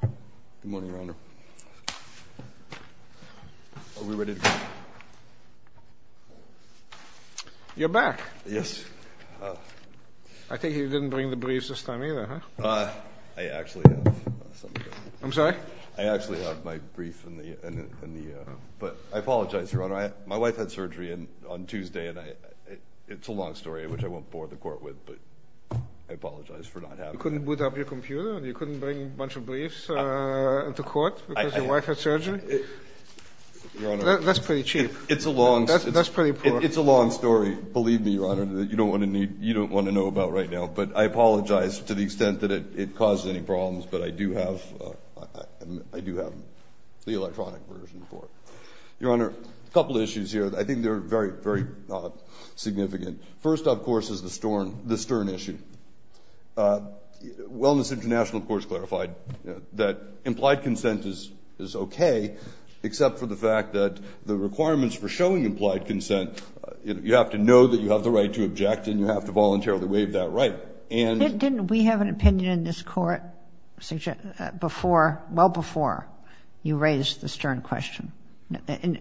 Good morning, Your Honor. Are we ready to go? You're back. Yes. I think you didn't bring the briefs this time either, huh? I actually have some. I'm sorry? I actually have my briefs in the, but I apologize, Your Honor. My wife had surgery on Tuesday, and it's a long story, which I won't bore the court with, but I apologize for not having it. You couldn't boot up your computer? You couldn't bring a bunch of briefs into court because your wife had surgery? That's pretty cheap. It's a long story. That's pretty poor. It's a long story. Believe me, Your Honor, that you don't want to know about right now. But I apologize to the extent that it caused any problems, but I do have the electronic version for it. Your Honor, a couple of issues here. I think they're very, very significant. First, of course, is the Stern issue. Wellness International, of course, clarified that implied consent is okay, except for the fact that the requirements for showing implied consent, you have to know that you have the right to object, and you have to voluntarily waive that right. Didn't we have an opinion in this court well before you raised the Stern question,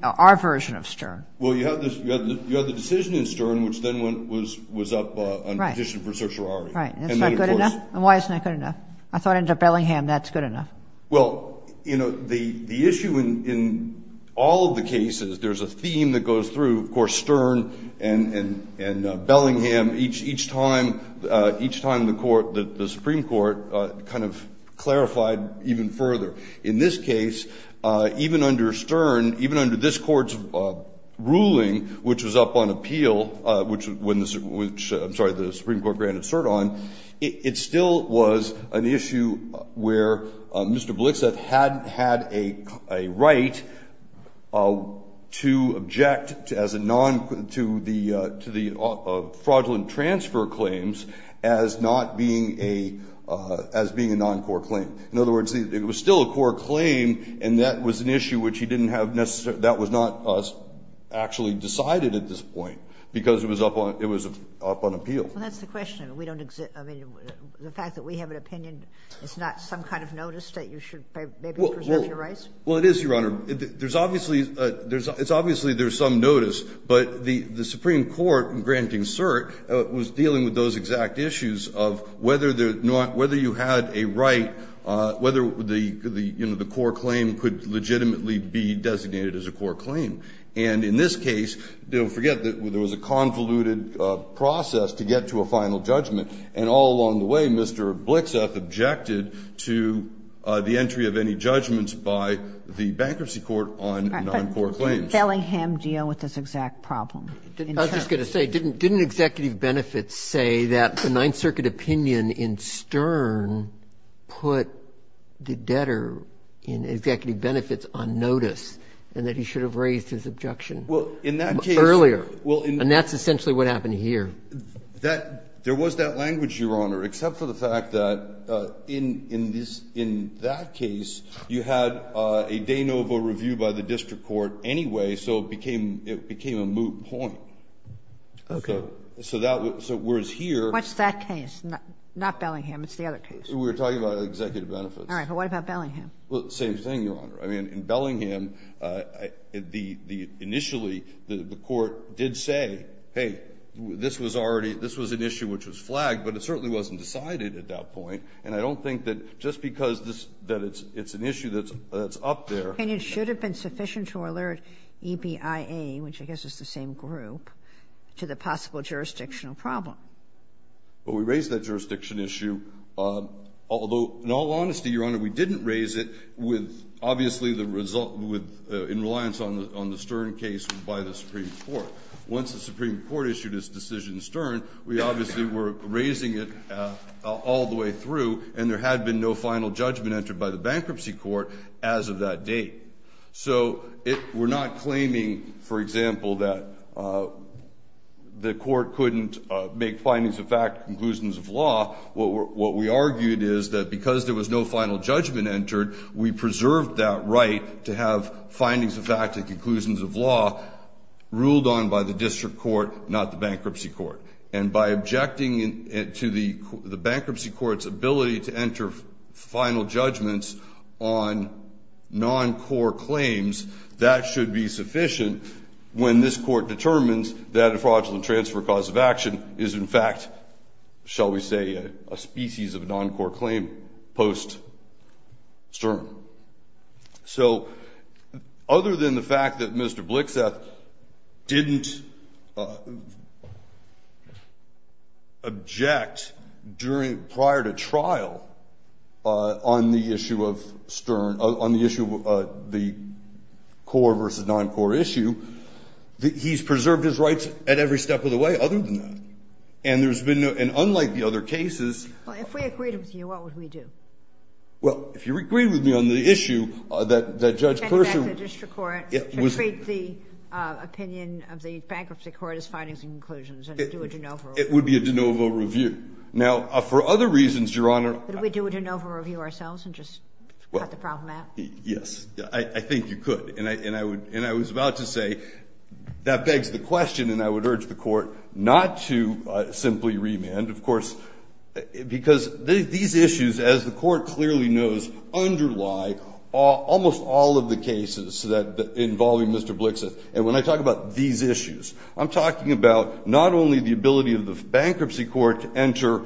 our version of Stern? Well, you have the decision in Stern, which then was up on petition for certiorari. Right. Is that good enough, and why isn't that good enough? I thought under Bellingham that's good enough. Well, you know, the issue in all of the cases, there's a theme that goes through, of course, Stern and Bellingham, each time the Supreme Court kind of clarified even further. In this case, even under Stern, even under this court's ruling, which was up on appeal, which the Supreme Court granted cert on, it still was an issue where Mr. Blitzeff had a right to object to the fraudulent transfer claims as being a non-court claim. In other words, it was still a court claim, and that was an issue that was not actually decided at this point, because it was up on appeal. Well, that's the question. The fact that we have an opinion is not some kind of notice that you should maybe preserve your rights? Well, it is, Your Honor. It's obviously there's some notice, but the Supreme Court granting cert was dealing with those exact issues of whether you had a right, whether the court claim could legitimately be designated as a court claim. And in this case, don't forget that there was a convoluted process to get to a final judgment, and all along the way, Mr. Blitzeff objected to the entry of any judgments by the bankruptcy court on non-court claims. But did Bellingham deal with this exact problem? I was just going to say, didn't executive benefits say that the Ninth Circuit opinion in Stern put the debtor in executive benefits on notice, and that he should have raised his objection earlier? And that's essentially what happened here. There was that language, Your Honor, except for the fact that in that case, you had a de novo review by the district court anyway, so it became a moot point. What's that case? Not Bellingham. It's the other case. We're talking about executive benefits. Well, same thing, Your Honor. I mean, in Bellingham, initially, the court did say, hey, this was an issue which was flagged, but it certainly wasn't decided at that point, and I don't think that just because it's an issue that's up there… And it should have been sufficient to alert EBIA, which I guess is the same group, to the possible jurisdictional problem. But we raised that jurisdiction issue, although in all honesty, Your Honor, we didn't raise it in reliance on the Stern case by the Supreme Court. Once the Supreme Court issued its decision in Stern, we obviously were raising it all the way through, and there had been no final judgment entered by the bankruptcy court as of that date. So we're not claiming, for example, that the court couldn't make findings of fact and conclusions of law. What we argued is that because there was no final judgment entered, we preserved that right to have findings of fact and conclusions of law ruled on by the district court, not the bankruptcy court. And by objecting to the bankruptcy court's ability to enter final judgments on non-core claims, that should be sufficient when this court determines that a fraudulent transfer cause of action is in fact, shall we say, a species of non-core claim post-Stern. So, other than the fact that Mr. Blixeth didn't object prior to trial on the issue of Stern, on the issue of the core versus non-core issue, he's preserved his rights at every step of the way other than that. And unlike the other cases... If we agreed with you, what would we do? Well, if you agree with me on the issue that Judge Pershing... Back it back to the district court and treat the opinion of the bankruptcy court as findings and conclusions and do a de novo. It would be a de novo review. Now, for other reasons, Your Honor... Would we do a de novo review ourselves and just cut the problem out? Yes, I think you could. And I was about to say, that begs the question, and I would urge the court not to simply remand, of course, because these issues, as the court clearly knows, underlie almost all of the cases involving Mr. Blixeth. And when I talk about these issues, I'm talking about not only the ability of the bankruptcy court to enter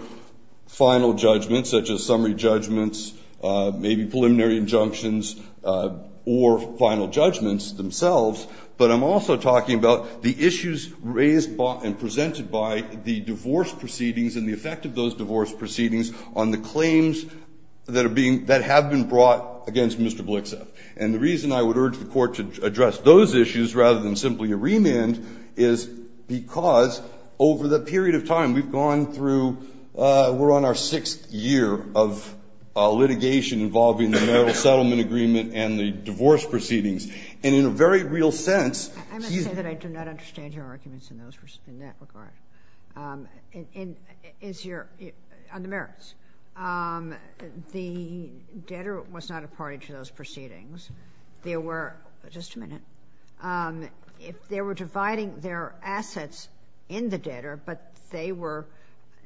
final judgments, such as summary judgments, maybe preliminary injunctions, or final judgments themselves, but I'm also talking about the issues raised and presented by the divorce proceedings and the effect of those divorce proceedings on the claims that have been brought against Mr. Blixeth. And the reason I would urge the court to address those issues rather than simply remand is because over the period of time we've gone through... We're on our sixth year of litigation involving the marital settlement agreement and the divorce proceedings. And in a very real sense... I must say that I do not understand your arguments in that regard. As your... I'm American. The debtor was not a party to those proceedings. There were... Just a minute. They were dividing their assets in the debtor, but they were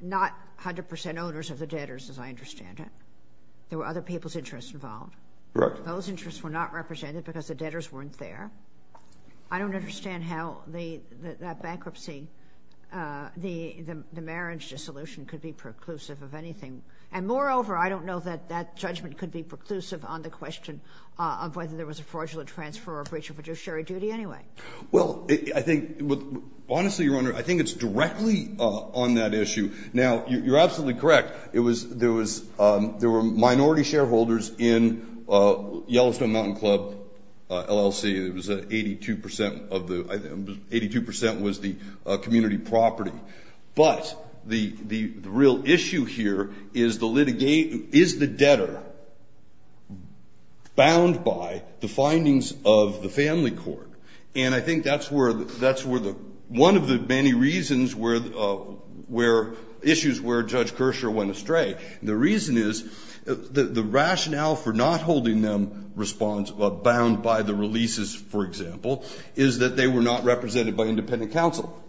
not 100% owners of the debtors, as I understand it. There were other people's interests involved. Those interests were not represented because the debtors weren't there. I don't understand how that bankruptcy, the marriage dissolution, could be preclusive of anything. And moreover, I don't know that that judgment could be preclusive on the question of whether there was a fraudulent transfer or breach of fiduciary duty anyway. Well, I think... Honestly, Your Honor, I think it's directly on that issue. Now, you're absolutely correct. There were minority shareholders in Yellowfin Mountain Club, LLC. 82% was the community property. But the real issue here is the debtor bound by the findings of the family court. And I think that's where the... One of the many reasons where... Issues where Judge Kershaw went astray. The reason is the rationale for not holding them bound by the releases, for example, is that they were not represented by independent counsel.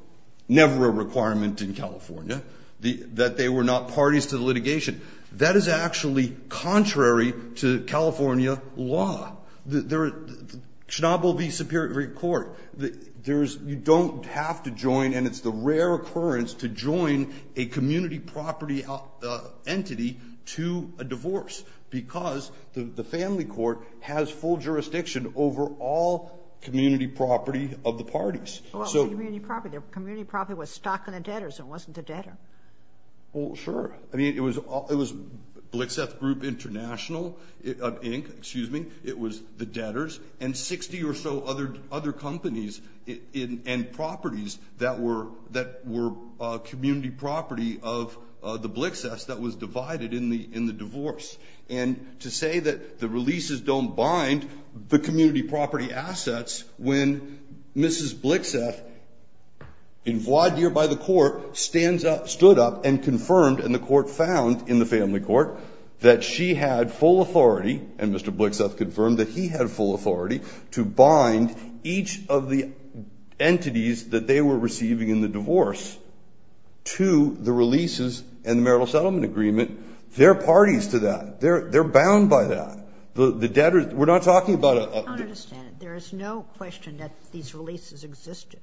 Never a requirement in California. That they were not parties to the litigation. That is actually contrary to California law. Chernobyl v. Superior Court. You don't have to join, and it's the rare occurrence to join, a community property entity to a divorce because the family court has full jurisdiction over all community property of the parties. Well, community property was stocking the debtors. It wasn't the debtor. Well, sure. I mean, it was Blixeff Group International, Inc., excuse me. It was the debtors and 60 or so other companies and properties that were community property of the Blixeffs that was divided in the divorce. And to say that the releases don't bind the community property assets when Mrs. Blixeff, involved here by the court, stood up and confirmed, and the court found in the family court, that she had full authority, and Mr. Blixeff confirmed that he had full authority, to bind each of the entities that they were receiving in the divorce to the releases and the marital settlement agreement. They're parties to that. They're bound by that. We're not talking about a... I don't understand. There is no question that these releases existed.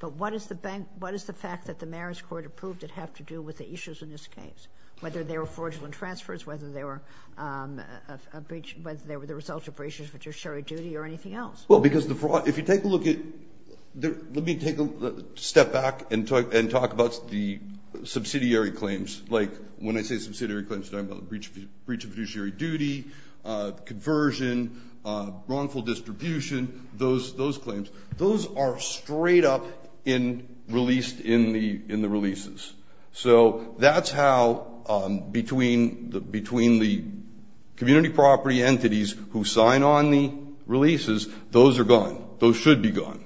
But what is the fact that the marriage court approved it have to do with the issues in this case, whether they were fraudulent transfers, whether they were the result of breaches of fiduciary duty or anything else? Well, because the fraud, if you take a look at... Let me take a step back and talk about the subsidiary claims. When I say subsidiary claims, I'm talking about breaches of fiduciary duty, conversion, wrongful distribution, those claims. Those are straight up released in the releases. So that's how, between the community property entities who sign on the releases, those are gone. Those should be gone.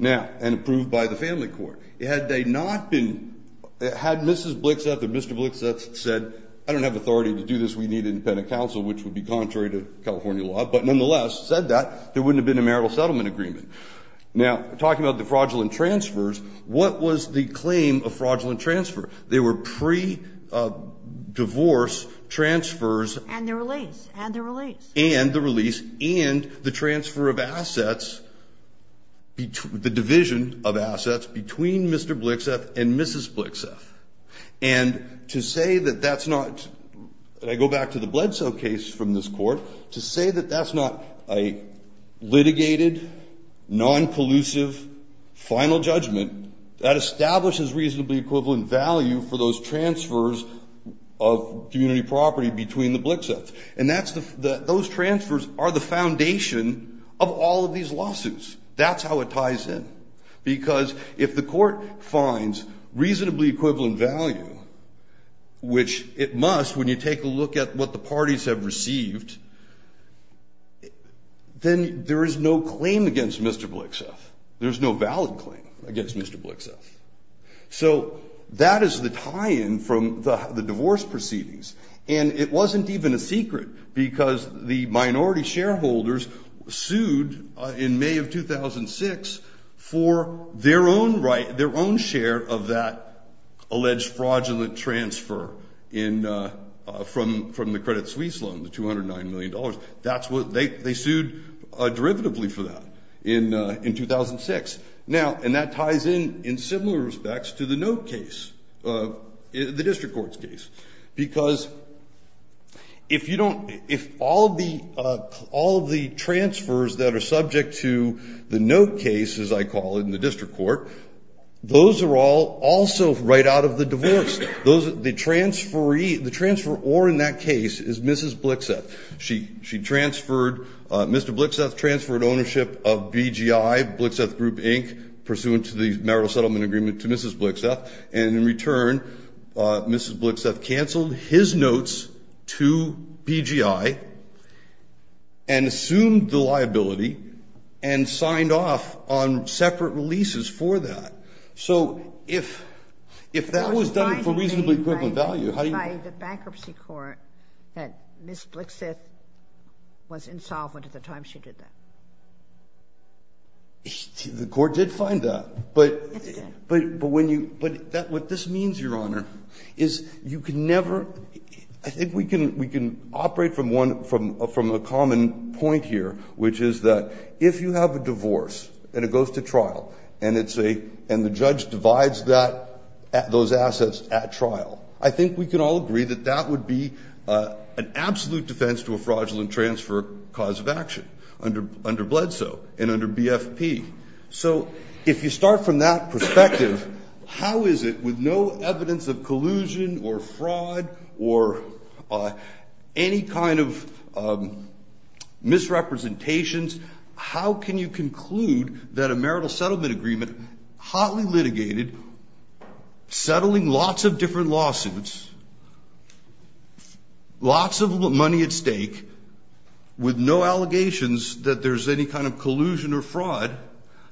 And approved by the family court. Had they not been... Had Mrs. Blixeth or Mr. Blixeth said, I don't have authority to do this, we need an independent counsel, which would be contrary to California law, but nonetheless said that, there wouldn't have been a marital settlement agreement. Now, talking about the fraudulent transfers, what was the claim of fraudulent transfer? They were pre-divorce transfers... And they're released. And they're released. Between Mr. Blixeth and Mrs. Blixeth. And to say that that's not... And I go back to the Bledsoe case from this court, to say that that's not a litigated, non-pollusive, final judgment, that establishes reasonably equivalent value for those transfers of community property between the Blixeths. And those transfers are the foundation of all of these lawsuits. That's how it ties in. Because if the court finds reasonably equivalent value, which it must when you take a look at what the parties have received, then there is no claim against Mr. Blixeth. There's no valid claim against Mr. Blixeth. So, that is the tie-in from the divorce proceedings. And it wasn't even a secret, because the minority shareholders sued in May of 2006 for their own share of that alleged fraudulent transfer from the Credit Suisse loan, the $209 million. They sued derivatively for that in 2006. And that ties in, in similar respects, to the note case, the district court's case. Because if all of the transfers that are subject to the note case, as I call it in the district court, those are also right out of the divorce. The transferor in that case is Mrs. Blixeth. Mr. Blixeth transferred ownership of BGI, Blixeth Group, Inc., pursuant to the marital settlement agreement to Mrs. Blixeth. And in return, Mrs. Blixeth canceled his notes to BGI and assumed the liability and signed off on separate leases for that. So, if that was done for reasonably equivalent value, how do you... The bankruptcy court said Mrs. Blixeth was insolvent at the time she did that. The court did find that. But what this means, Your Honor, is you can never... I think we can operate from a common point here, which is that if you have a divorce and it goes to trial and the judge divides those assets at trial, I think we can all agree that that would be an absolute defense to a fraudulent transfer cause of action under Bledsoe and under BFP. So, if you start from that perspective, how is it with no evidence of collusion or fraud or any kind of misrepresentations, how can you conclude that a marital settlement agreement, hotly litigated, settling lots of different lawsuits, lots of money at stake, with no allegations that there's any kind of collusion or fraud,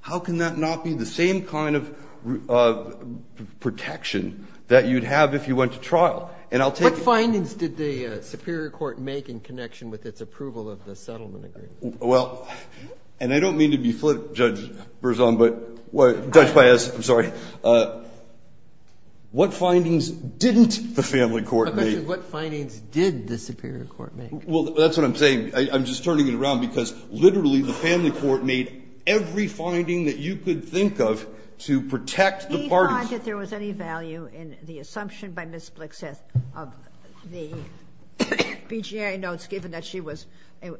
how can that not be the same kind of protection that you'd have if you went to trial? And I'll take... What findings did the Superior Court make in connection with its approval of the settlement agreement? Well, and I don't mean to be flippant, Judge Baez, I'm sorry. What findings didn't the family court make? How much of what findings did the Superior Court make? Well, that's what I'm saying. I'm just turning it around because, literally, the family court made every finding that you could think of to protect the parties. He thought that there was any value in the assumption by Ms. Blixeth of the BJA notes given that she was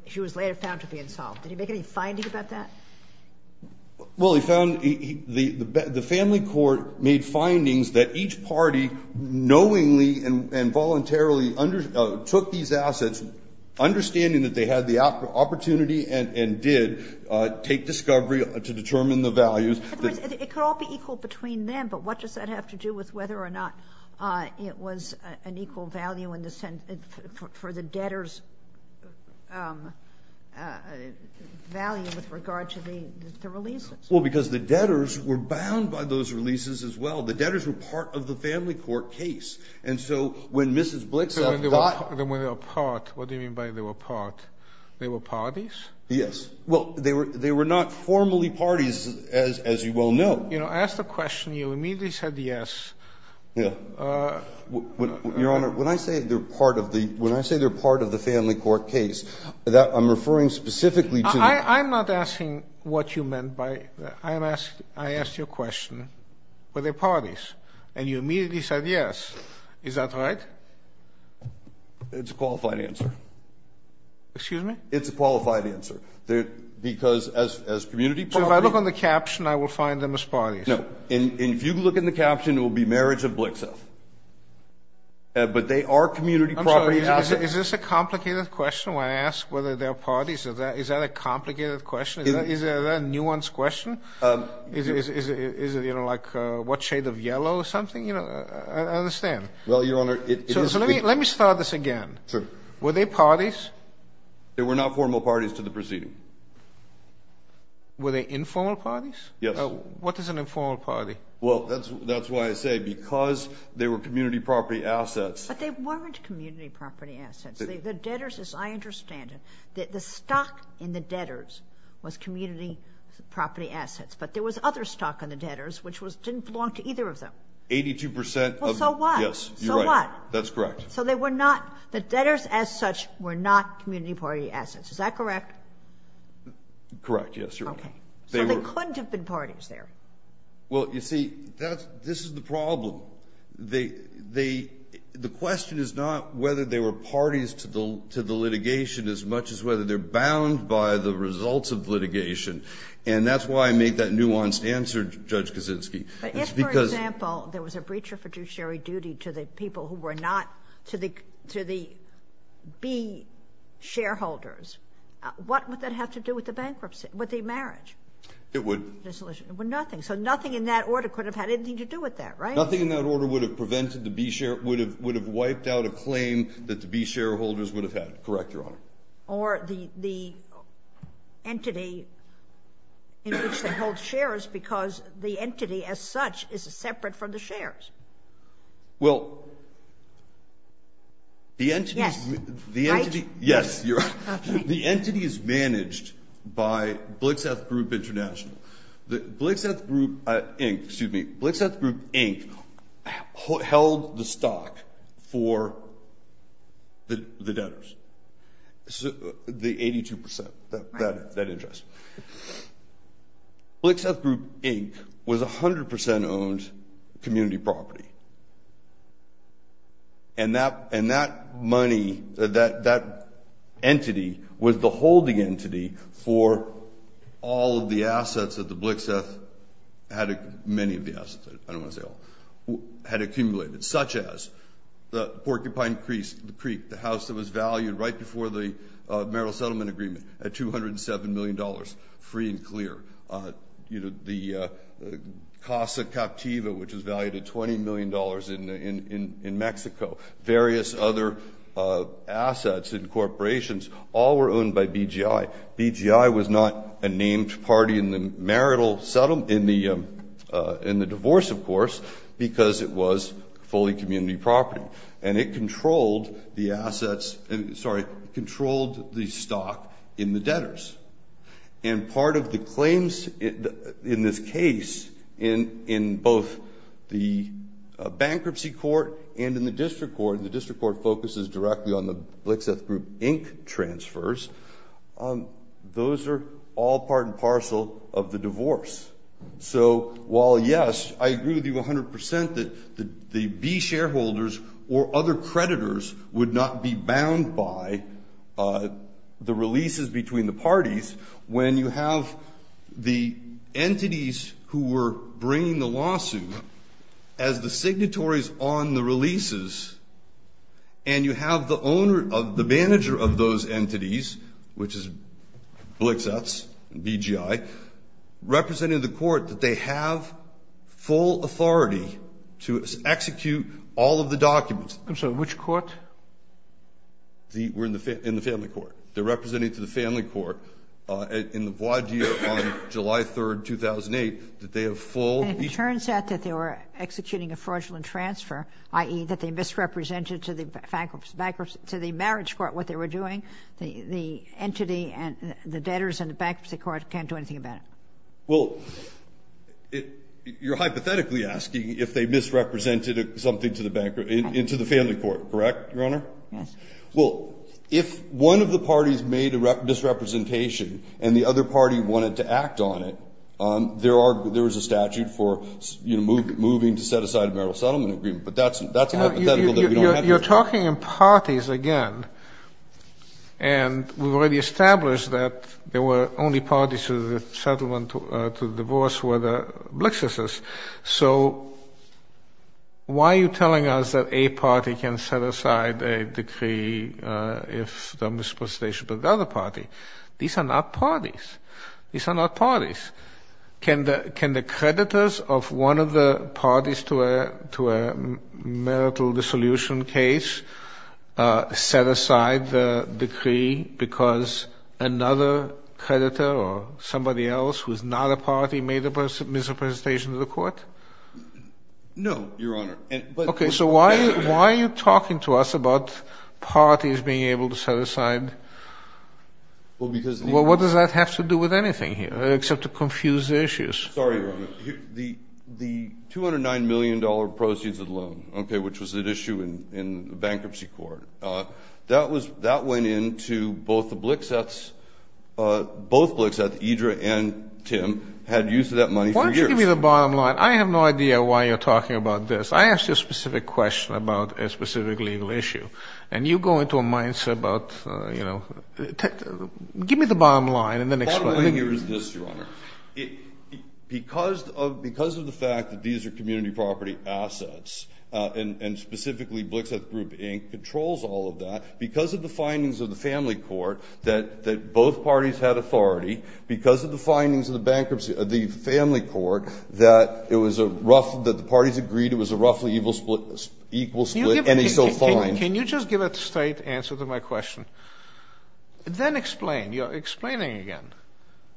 later found to be involved. Did he make any findings about that? Well, he found... The family court made findings that each party knowingly and voluntarily took these assets, understanding that they had the opportunity and did take discovery to determine the values. It could all be equal between them, but what does that have to do with whether or not it was an equal value for the debtors' value with regard to the releases? Well, because the debtors were bound by those releases as well. The debtors were part of the family court case, and so when Mrs. Blixeth got... When they were part, what do you mean by they were part? They were parties? Yes. Well, they were not formally parties, as you well know. You know, I asked the question, you immediately said yes. Yeah. Your Honor, when I say they're part of the family court case, I'm referring specifically to... I'm not asking what you meant by... I asked you a question, were they parties? And you immediately said yes. Is that right? It's a qualified answer. Excuse me? It's a qualified answer, because as community property... So if I look on the caption, I will find them as parties? No. If you look in the caption, it will be marriage of Blixeth. But they are community property assets. Is this a complicated question when I ask whether they're parties? Is that a complicated question? Is that a nuanced question? Is it, you know, like what shade of yellow or something? I understand. Well, Your Honor... So let me start this again. Were they parties? They were not formal parties to the proceeding. Were they informal parties? Yes. What is an informal party? Well, that's why I say, because they were community property assets... But they weren't community property assets. The debtors, as I understand it, the stock in the debtors was community property assets. But there was other stock in the debtors, which didn't belong to either of them. 82% of them. So what? Yes, you're right. So what? That's correct. So they were not, the debtors as such were not community property assets. Is that correct? Correct, yes, Your Honor. Okay. So there couldn't have been parties there? Well, you see, this is the problem. The question is not whether they were parties to the litigation as much as whether they're bound by the results of litigation. And that's why I made that nuanced answer, Judge Kaczynski. If, for example, there was a breach of fiduciary duty to the people who were not, to the B shareholders, what would that have to do with the bankruptcy, with the marriage? It would... Nothing. So nothing in that order could have had anything to do with that, right? Nothing in that order would have prevented the B share, would have wiped out a claim that the B shareholders would have had. Correct, Your Honor. Or the entity in which they held shares because the entity as such is separate from the shares. Well, the entity... Yes, right. Yes, you're right. The entity is managed by Blitzeth Group International. Blitzeth Group Inc., excuse me, Blitzeth Group Inc. held the stock for the debtors, the 82% that interest. Blitzeth Group Inc. was 100% owned community property. And that money, that entity was the holding entity for all of the assets that the Blitzeth had, many of the assets, I don't want to say all, had accumulated, such as the Porcupine Creek, the house that was valued right before the marital settlement agreement at $207 million, free and clear. The Casa Captiva, which was valued at $20 million in Mexico. Various other assets and corporations, all were owned by BGI. BGI was not a named party in the divorce, of course, because it was fully community property. And it controlled the assets, sorry, controlled the stock in the debtors. And part of the claims in this case, in both the bankruptcy court and in the district court, and the district court focuses directly on the Blitzeth Group Inc. transfers, those are all part and parcel of the divorce. So while yes, I agree with you 100% that the shareholders or other creditors would not be bound by the releases between the parties, when you have the entities who were bringing the lawsuit as the signatories on the releases, and you have the manager of those entities, which is Blitzeths, BGI, representing the court that they have full authority to execute all of the documents. I'm sorry, which court? We're in the family court. It turns out that they were executing a fraudulent transfer, i.e. that they misrepresented to the marriage court what they were doing. The entity and the debtors in the bankruptcy court can't do anything about it. Well, you're hypothetically asking if they misrepresented something into the family court, correct, Your Honor? Yes. Well, if one of the parties made a misrepresentation and the other party wanted to act on it, there is a statute for moving to set aside a marital settlement agreement, but that's hypothetical. You're talking in parties again, and we've already established that the only parties to the divorce were the Blitzeths. So why are you telling us that a party can set aside a decree if they misrepresentation to the other party? These are not parties. Can the creditors of one of the parties to a marital dissolution case set aside the decree because another creditor or somebody else who's not a party made a misrepresentation to the court? No, Your Honor. Okay, so why are you talking to us about parties being able to set aside – well, what does that have to do with anything here except to confuse issues? Sorry, Your Honor. The $209 million proceeds of loan, okay, which was at issue in the bankruptcy court, that went into both the Blitzeths. Both Blitzeths, Idra and Tim, had use of that money for years. Give me the bottom line. I have no idea why you're talking about this. I asked you a specific question about a specific legal issue, and you go into a mindset about – give me the bottom line and then explain. Let me get rid of this, Your Honor. Because of the fact that these are community property assets, and specifically Blitzeth Group Inc. controls all of that, because of the findings of the family court that both parties had authority, because of the findings of the family court that the parties agreed it was a roughly equal split, and it still falls. Can you just give a straight answer to my question? Then explain. You're explaining again.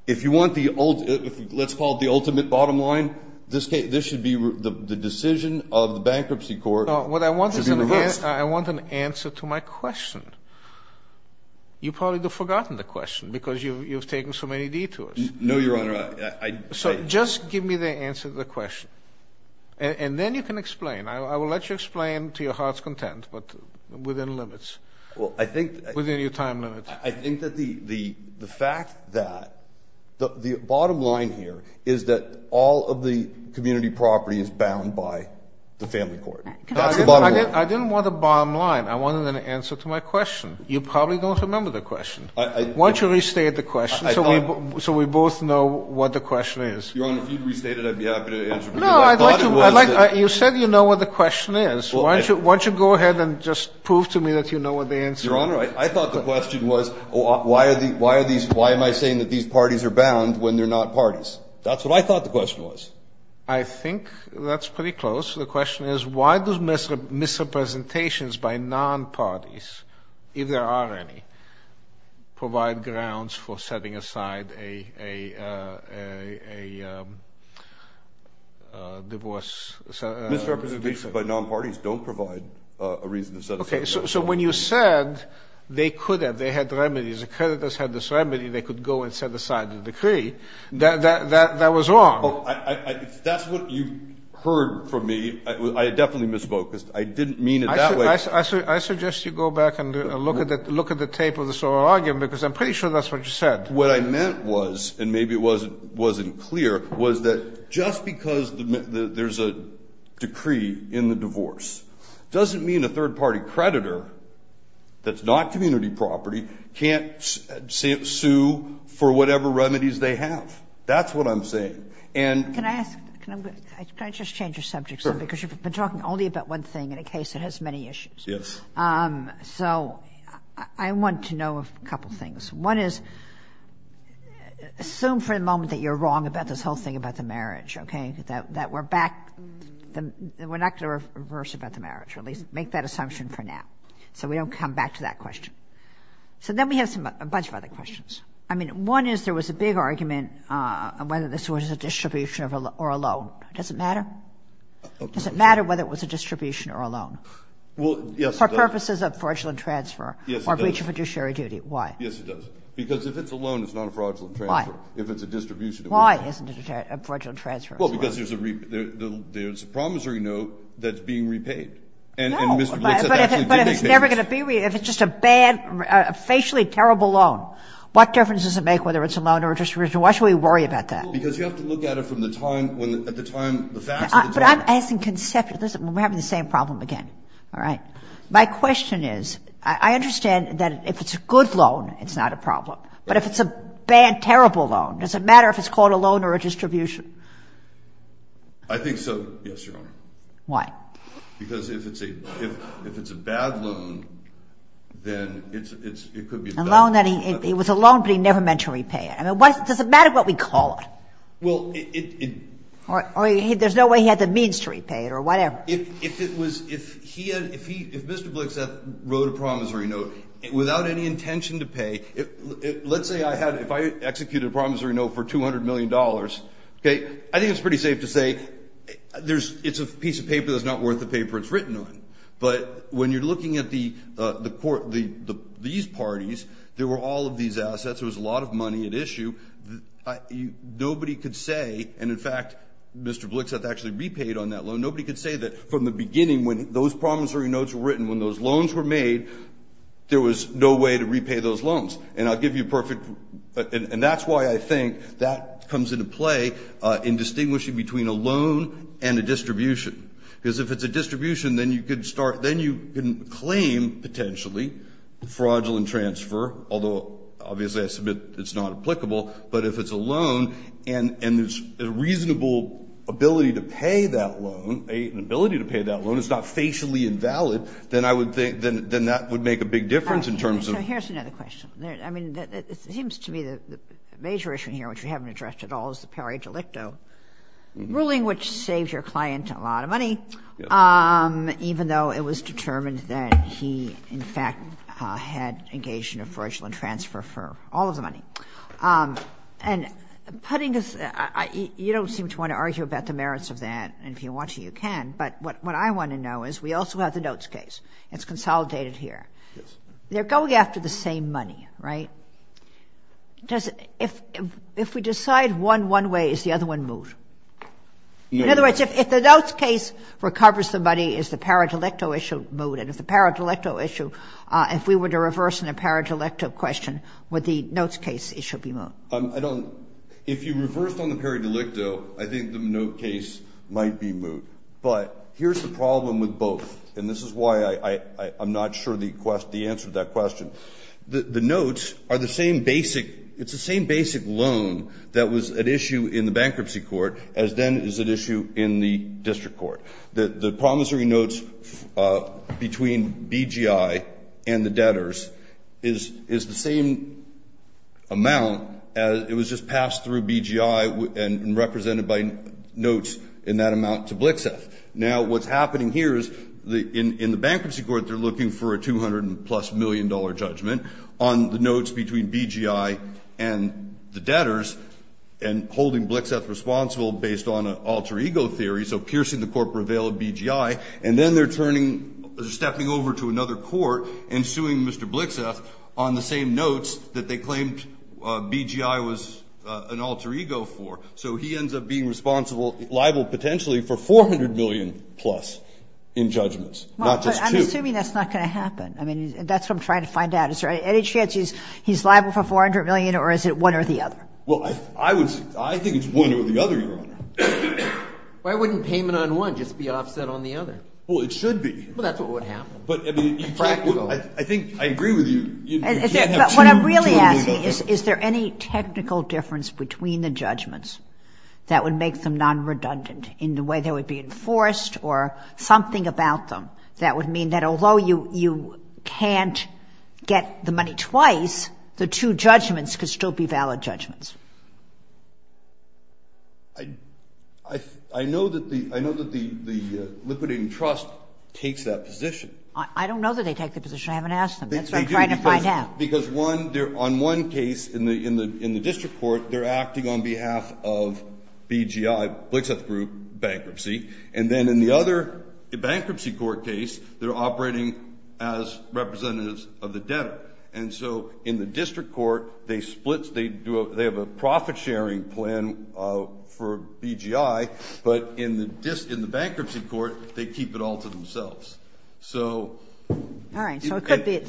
If you want the ultimate bottom line, this should be the decision of the bankruptcy court. No, what I want is an answer to my question. You've probably forgotten the question, because you've taken so many detours. No, Your Honor. Just give me the answer to the question, and then you can explain. I will let you explain to your heart's content, but within limits. I think that the fact that – the bottom line here is that all of the community property is bound by the family court. I didn't want a bottom line. I wanted an answer to my question. You probably don't remember the question. Why don't you restate the question so we both know what the question is? Your Honor, if you restate it, I'd be happy to answer. No, I'd like to – you said you know what the question is. Why don't you go ahead and just prove to me that you know what the answer is? Your Honor, I thought the question was, why are these – why am I saying that these parties are bound when they're not parties? That's what I thought the question was. I think that's pretty close. The question is, why do misrepresentations by non-parties, if there are any, provide grounds for setting aside a divorce? Misrepresentations by non-parties don't provide a reason to set aside a divorce. Okay, so when you said they could have, they had remedies, the creditors had this remedy, they could go and set aside the decree, that was wrong. Well, that's what you heard from me. I definitely misspoke. I didn't mean it that way. I suggest you go back and look at the tape of this whole argument because I'm pretty sure that's what you said. What I meant was, and maybe it wasn't clear, was that just because there's a decree in the divorce doesn't mean a third-party creditor that's not community property can't sue for whatever remedies they have. That's what I'm saying. Can I just change the subject? Because you've been talking only about one thing in a case that has many issues. Yes. So I want to know a couple things. One is, assume for a moment that you're wrong about this whole thing about the marriage, okay? That we're not going to reverse about the marriage. Make that assumption for now so we don't come back to that question. So then we have a bunch of other questions. One is, there was a big argument whether this was a distribution or a loan. Does it matter? Does it matter whether it was a distribution or a loan? Yes, it does. For purposes of fraudulent transfer or breach of fiduciary duty. Why? Yes, it does. Because if it's a loan, it's not a fraudulent transfer. Why? If it's a distribution. Why isn't it a fraudulent transfer? Well, because there's a promissory note that's being repaid. No, but if it's just a bad, facially terrible loan, what difference does it make whether it's a loan or a distribution? Why should we worry about that? Because you have to look at it from the time, at the time, the fact of the time. But I'm asking conceptually. Listen, we're having the same problem again. All right? My question is, I understand that if it's a good loan, it's not a problem. But if it's a bad, terrible loan, does it matter if it's called a loan or a distribution? I think so. Yes, Your Honor. Why? Because if it's a bad loan, then it could be a bad loan. A loan that he, it was a loan, but he never meant to repay it. I mean, does it matter what we call it? Well, it... Or there's no way he had the means to repay it, or whatever. If it was, if he, if Mr. Blixeth wrote a promissory note without any intention to pay, let's say I had, if I executed a promissory note for $200 million, okay, I think it's pretty safe to say it's a piece of paper that's not worth the paper it's written on. But when you're looking at these parties, there were all of these assets, there was a lot of money at issue. Nobody could say, and in fact, Mr. Blixeth actually repaid on that loan. Nobody could say that from the beginning when those promissory notes were written, when those loans were made, there was no way to repay those loans. And I'll give you a perfect, and that's why I think that comes into play in distinguishing between a loan and a distribution. Because if it's a distribution, then you could start, then you can claim, potentially, fraudulent transfer, although obviously I submit it's not applicable. But if it's a loan, and there's a reasonable ability to pay that loan, an ability to pay that loan, it's not facially invalid, then I would think, then that would make a big difference in terms of... So here's another question. I mean, it seems to me that the major issue here, which we haven't addressed at all, is the power of delicto, ruling which saves your client a lot of money, even though it was determined that he, in fact, had engaged in a fraudulent transfer for all of the money. And putting this, you don't seem to want to argue about the merits of that, and if you want to, you can. But what I want to know is, we also have the notes case. It's consolidated here. They're going after the same money, right? If we decide one one way, is the other one moot? In other words, if the notes case recovers the money, is the power of delicto issue moot? And if the power of delicto issue, if we were to reverse the power of delicto question, would the notes case issue be moot? I don't... If you reverse on the power of delicto, I think the notes case might be moot. But here's the problem with both, and this is why I'm not sure the answer to that question. The notes are the same basic, it's the same basic loan that was at issue in the bankruptcy court as then is at issue in the district court. The promissory notes between BGI and the debtors is the same amount as it was just passed through BGI and represented by notes in that amount to Blixeth. Now, what's happening here is, in the bankruptcy court, they're looking for a 200 plus million dollar judgment on the notes between BGI and the debtors, and holding Blixeth responsible based on an alter ego theory, so piercing the corporate veil of BGI, and then they're stepping over to another court and suing Mr. Blixeth on the same notes that they claimed BGI was an alter ego for. So he ends up being liable potentially for 400 million plus in judgments, not just two. I'm assuming that's not going to happen. I mean, that's what I'm trying to find out. Is there any chance he's liable for 400 million, or is it one or the other? Well, I think it's one or the other. Why wouldn't payment on one just be offset on the other? Well, it should be. Well, that's what would happen. But, I mean, I think I agree with you. What I'm really asking is, is there any technical difference between the judgments that would make them non-redundant in the way they would be enforced, or something about them that would mean that although you can't get the money twice, the two judgments could still be valid judgments? I know that the liquidating trust takes that position. I don't know that they take that position. I haven't asked them. That's what I'm trying to find out. On one case, in the district court, they're acting on behalf of BGI, Blixith Group Bankruptcy. And then, in the other bankruptcy court case, they're operating as representatives of the debtor. And so, in the district court, they have a profit-sharing plan for BGI, but in the bankruptcy court, they keep it all to themselves. All right. So, it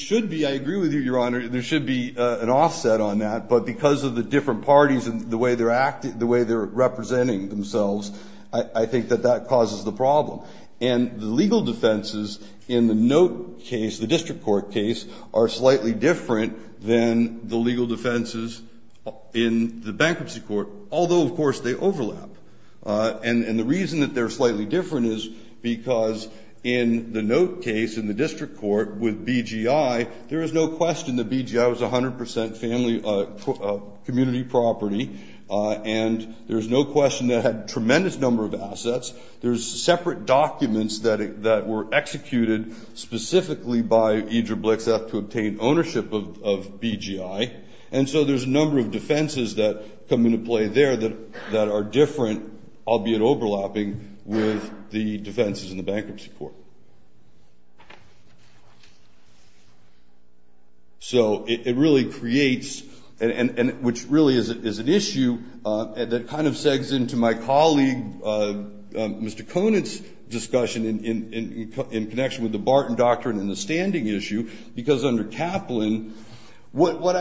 should be, I agree with you, Your Honor, there should be an offset on that. But, because of the different parties and the way they're acting, the way they're representing themselves, I think that that causes the problem. And the legal defenses in the note case, the district court case, are slightly different than the legal defenses in the bankruptcy court. Although, of course, they overlap. And the reason that they're slightly different is because, in the note case, in the district court, with BGI, there is no question that BGI was 100% community property. And there's no question that it had a tremendous number of assets. There's separate documents that were executed specifically by Idra Blixith to obtain ownership of BGI. And so, there's a number of defenses that come into play there that are different, albeit overlapping, with the defenses in the bankruptcy court. So, it really creates, and which really is an issue that kind of segues into my colleague, Mr. Conant's, discussion in connection with the Barton Doctrine and the standing issue. Because under Kaplan, what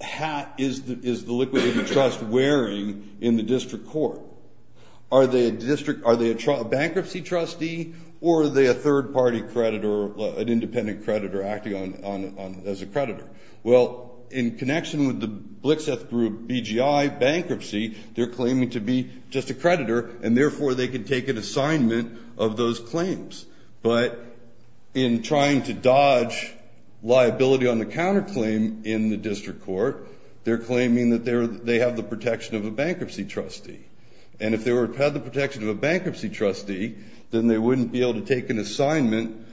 hat is the liquidated trust wearing in the district court? Are they a bankruptcy trustee, or are they a third-party creditor, an independent creditor acting as a creditor? Well, in connection with the Blixith group, BGI, bankruptcy, they're claiming to be just a creditor, and therefore they can take an assignment of those claims. But, in trying to dodge liability on the counterclaim in the district court, they're claiming that they have the protection of a bankruptcy trustee. And if they had the protection of a bankruptcy trustee, then they wouldn't be able to take an assignment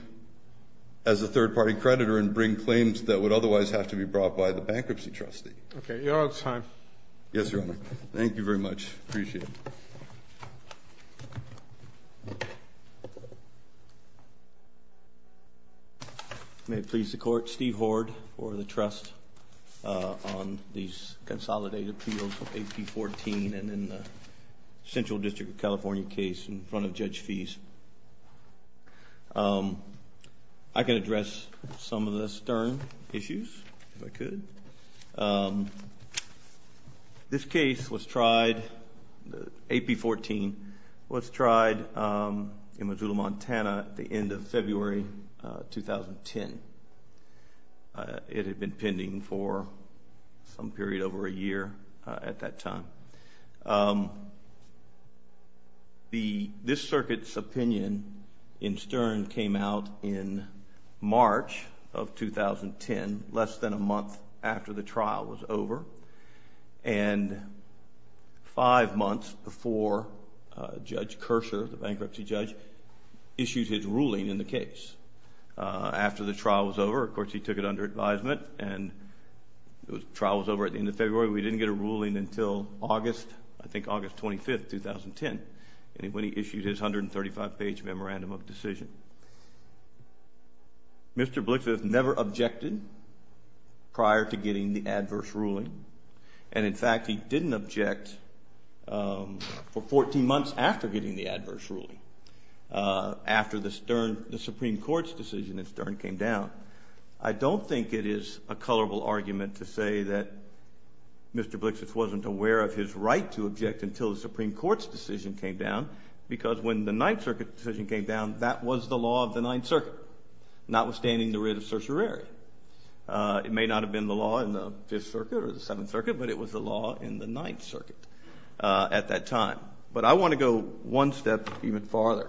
as a third-party creditor and bring claims that would otherwise have to be brought by the bankruptcy trustee. Okay, you're on time. Yes, Your Honor. Thank you very much. Appreciate it. May it please the Court, Steve Hoard, for the trust on these consolidated appeals of AP 14 and in the Central District of California case in front of Judge Fease. I can address some of the stern issues, if I could. This case was tried, AP 14, was tried in Missoula, Montana at the end of February 2010. It had been pending for some period over a year at that time. This circuit's opinion in stern came out in March of 2010, less than a month after the trial was over. And five months before Judge Kercher, the bankruptcy judge, issued his ruling in the case. After the trial was over, of course he took it under advisement, and the trial was over at the end of February. We didn't get a ruling until August, I think August 25, 2010, when he issued his 135-page memorandum of decision. Mr. Blix has never objected prior to getting the adverse ruling. And in fact, he didn't object for 14 months after getting the adverse ruling, after the Supreme Court's decision in stern came down. I don't think it is a colorable argument to say that Mr. Blix wasn't aware of his right to object until the Supreme Court's decision came down, because when the Ninth Circuit's decision came down, that was the law of the Ninth Circuit, notwithstanding the writ of certiorari. It may not have been the law in the Fifth Circuit or the Seventh Circuit, but it was the law in the Ninth Circuit at that time. But I want to go one step even farther.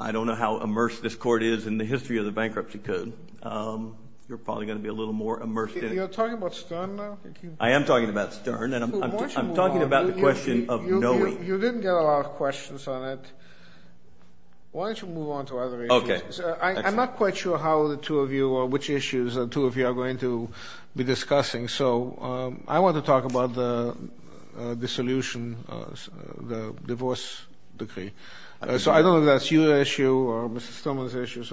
I don't know how immersed this court is in the history of the bankruptcy code. You're probably going to be a little more immersed in it. You're talking about stern now? I am talking about stern, and I'm talking about the question of knowing. You didn't get a lot of questions on it. Why don't you move on to other issues? I'm not quite sure which issues the two of you are going to be discussing. I want to talk about the solution, the divorce decree. I don't know if that's your issue or Mr. Stoneman's issue.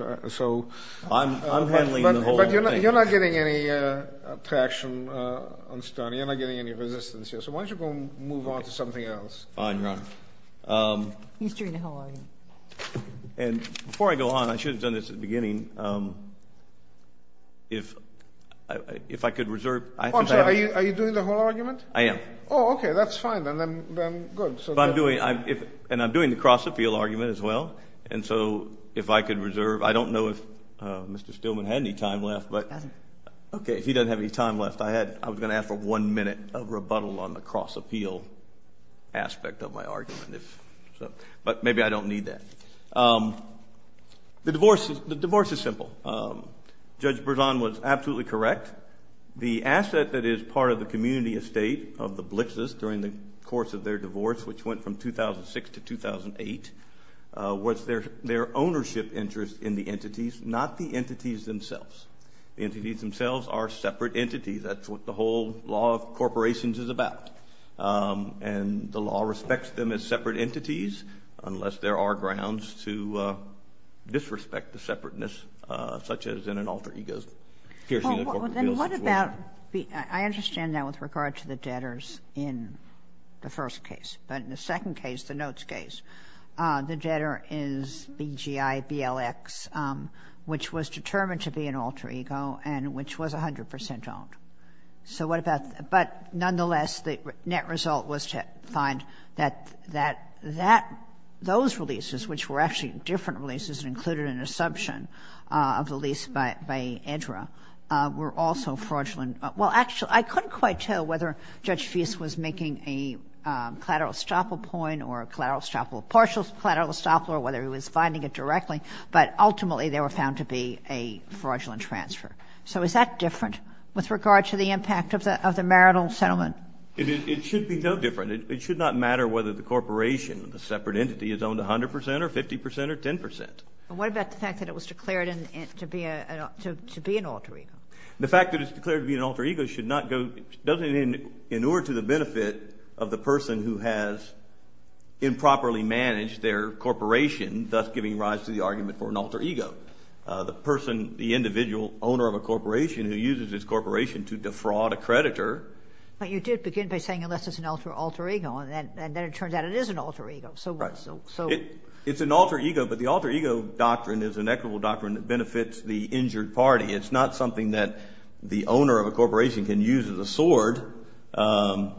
I'm handling the whole thing. You're not getting any traction on stern. You're not getting any resistance. Why don't you move on to something else? I'm not. He's doing the whole argument. Before I go on, I should have done this at the beginning. If I could reserve— Are you doing the whole argument? I am. Okay, that's fine. I'm doing the cross-appeal argument as well. If I could reserve—I don't know if Mr. Stoneman had any time left. Okay, he doesn't have any time left. I was going to ask for one minute of rebuttal on the cross-appeal aspect of my argument. But maybe I don't need that. The divorce is simple. Judge Berzon was absolutely correct. The asset that is part of the community estate of the Blitzes during the course of their divorce, which went from 2006 to 2008, was their ownership interest in the entities, not the entities themselves. The entities themselves are separate entities. That's what the whole law of corporations is about. And the law respects them as separate entities unless there are grounds to disrespect the separateness, such as in an alter ego's— Well, then what about—I understand that with regard to the debtors in the first case. But in the second case, the notes case, the debtor is BGI BLX, which was determined to be an alter ego and which was 100% owned. So what about—but nonetheless, the net result was to find that those releases, which were actually different releases and included an assumption of the lease by EDRA, were also fraudulent. Well, actually, I couldn't quite tell whether Judge Feist was making a collateral estoppel point or a collateral estoppel partial, collateral estoppel, or whether he was finding it directly. But ultimately, they were found to be a fraudulent transfer. So is that different with regard to the impact of the marital settlement? It should be no different. It should not matter whether the corporation, the separate entity, is owned 100% or 50% or 10%. And what about the fact that it was declared to be an alter ego? The fact that it's declared to be an alter ego should not go— in order to the benefit of the person who has improperly managed their corporation, thus giving rise to the argument for an alter ego, the person, the individual owner of a corporation who uses this corporation to defraud a creditor— But you did begin by saying, unless it's an alter ego, and then it turns out it is an alter ego. It's an alter ego, but the alter ego doctrine is an equitable doctrine that benefits the injured party. It's not something that the owner of a corporation can use as a sword to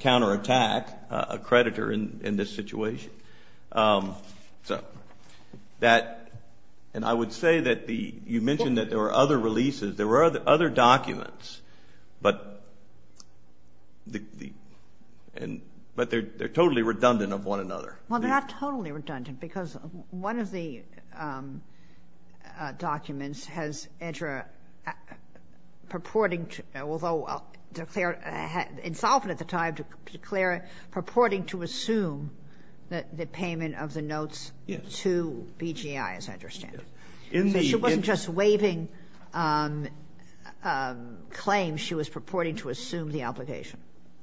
counterattack a creditor in this situation. So that—and I would say that you mentioned that there were other releases. There were other documents, but they're totally redundant of one another. Well, they're not totally redundant because one of the documents has Edger purporting to— the payment of the notes to BGI, as I understand it. She wasn't just waiving claims. She was purporting to assume the obligation.